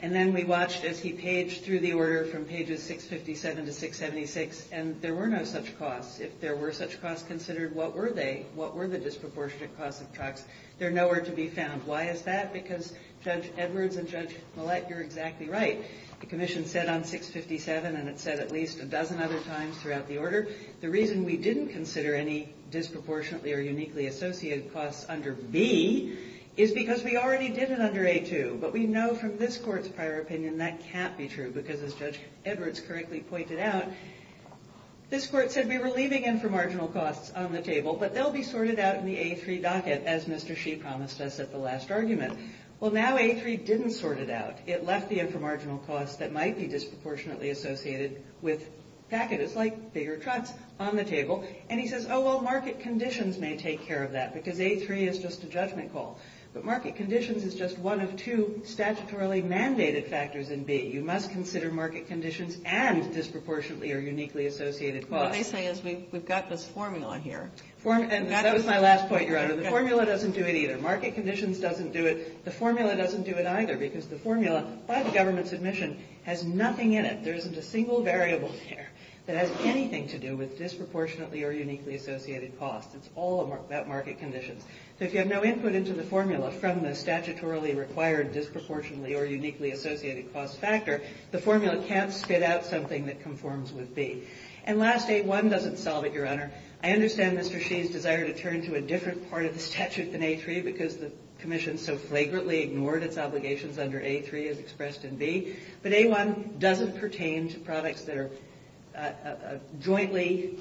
And then we watched as he paged through the order from pages 657 to 676, and there were no such costs. If there were such costs considered, what were they? What were the disproportionate costs of tax? They're nowhere to be found. Why is that? Because Judge Edwards and Judge Malik, you're exactly right. The commission said on 657, and it said at least a dozen other times throughout the order, the reason we didn't consider any disproportionately or uniquely associated costs under B is because we already did it under A2. But we know from this court's prior opinion that can't be true because, as Judge Edwards correctly pointed out, this court could be relieving inframarginal costs on the table, but they'll be sorted out in the A3 docket, as Mr. Shee promised us at the last argument. Well, now A3 didn't sort it out. It left the inframarginal costs that might be disproportionately associated with packages, like bigger cuts, on the table. And he says, oh, well, market conditions may take care of that because A3 is just a judgment call. But market conditions is just one of two statutorily mandated factors in B. You must consider market conditions and disproportionately or uniquely associated costs. What I say is we've got this formula here. And that was my last point, Your Honor. The formula doesn't do it either. Market conditions doesn't do it. The formula doesn't do it either because the formula, by the government's admission, has nothing in it. There isn't a single variable in here that has anything to do with disproportionately or uniquely associated costs. It's all about market conditions. So if you have no input into the formula from the statutorily required disproportionately or uniquely associated cost factor, the formula can't spit out something that conforms with B. And last, A1 doesn't solve it, Your Honor. I understand Mr. Shee's desire to turn to a different part of the statute than A3 because the Commission so flagrantly ignored its obligations under A3 as expressed in B. But A1 doesn't pertain to products that are jointly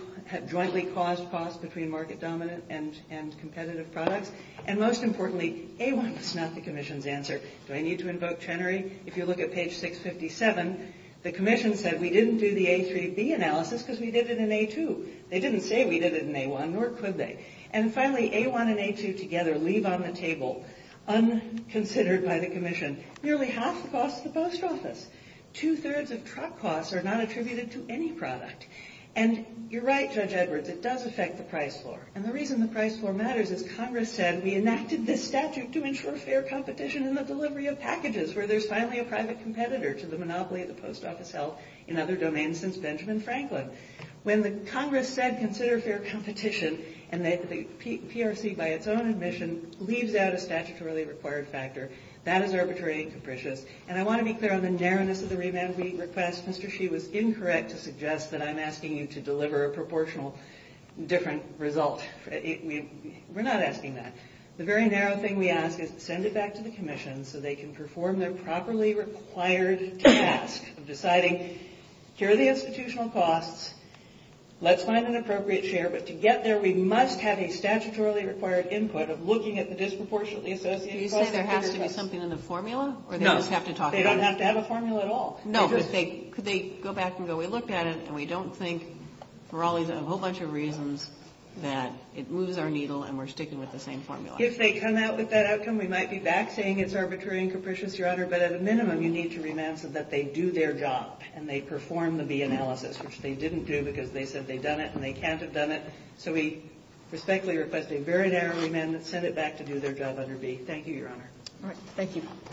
caused costs between market dominant and competitive products. And most importantly, A1 is not the Commission's answer. Do I need to invoke Chenery? If you look at page 657, the Commission said we didn't do the A3B analysis because we did it in A2. They didn't say we did it in A1, nor could they. And finally, A1 and A2 together leave on the table, unconsidered by the Commission. Nearly half cost the post office. Two-thirds of truck costs are not attributed to any product. And you're right, Judge Edward, it does affect the price floor. And the reason the price floor matters is Congress said we enacted this statute to ensure fair competition in the delivery of packages where there's finally a private competitor to the monopoly of the post office held in other domains since Benjamin Franklin. When the Congress said consider fair competition and the PRC by its own admission leaves out a statutorily required factor, that is arbitrary and capricious. And I want to be clear on the narrowness of the remand. We request Mr. Shi was incorrect to suggest that I'm asking you to deliver a proportional different result. We're not asking that. The very narrow thing we ask is to send it back to the Commission so they can perform their properly required task of deciding here are the institutional costs, let's find an appropriate share, but to get there we must have a statutorily required input of looking at the disproportionately Do you say there has to be something in the formula? No, they don't have to have a formula at all. No, but could they go back and go we looked at it and we don't think for a whole bunch of reasons that it moves our needle and we're sticking with the same formula. If they come out with that outcome we might be back saying it's arbitrary and capricious, Your Honor, but at a minimum you need to remand that they do their job and they perform the B analysis, which they didn't do because they said they've done it and they can't have done it. So we respectfully request a very narrow remand and send it back to do their job under B. Thank you, Your Honor. Thank you.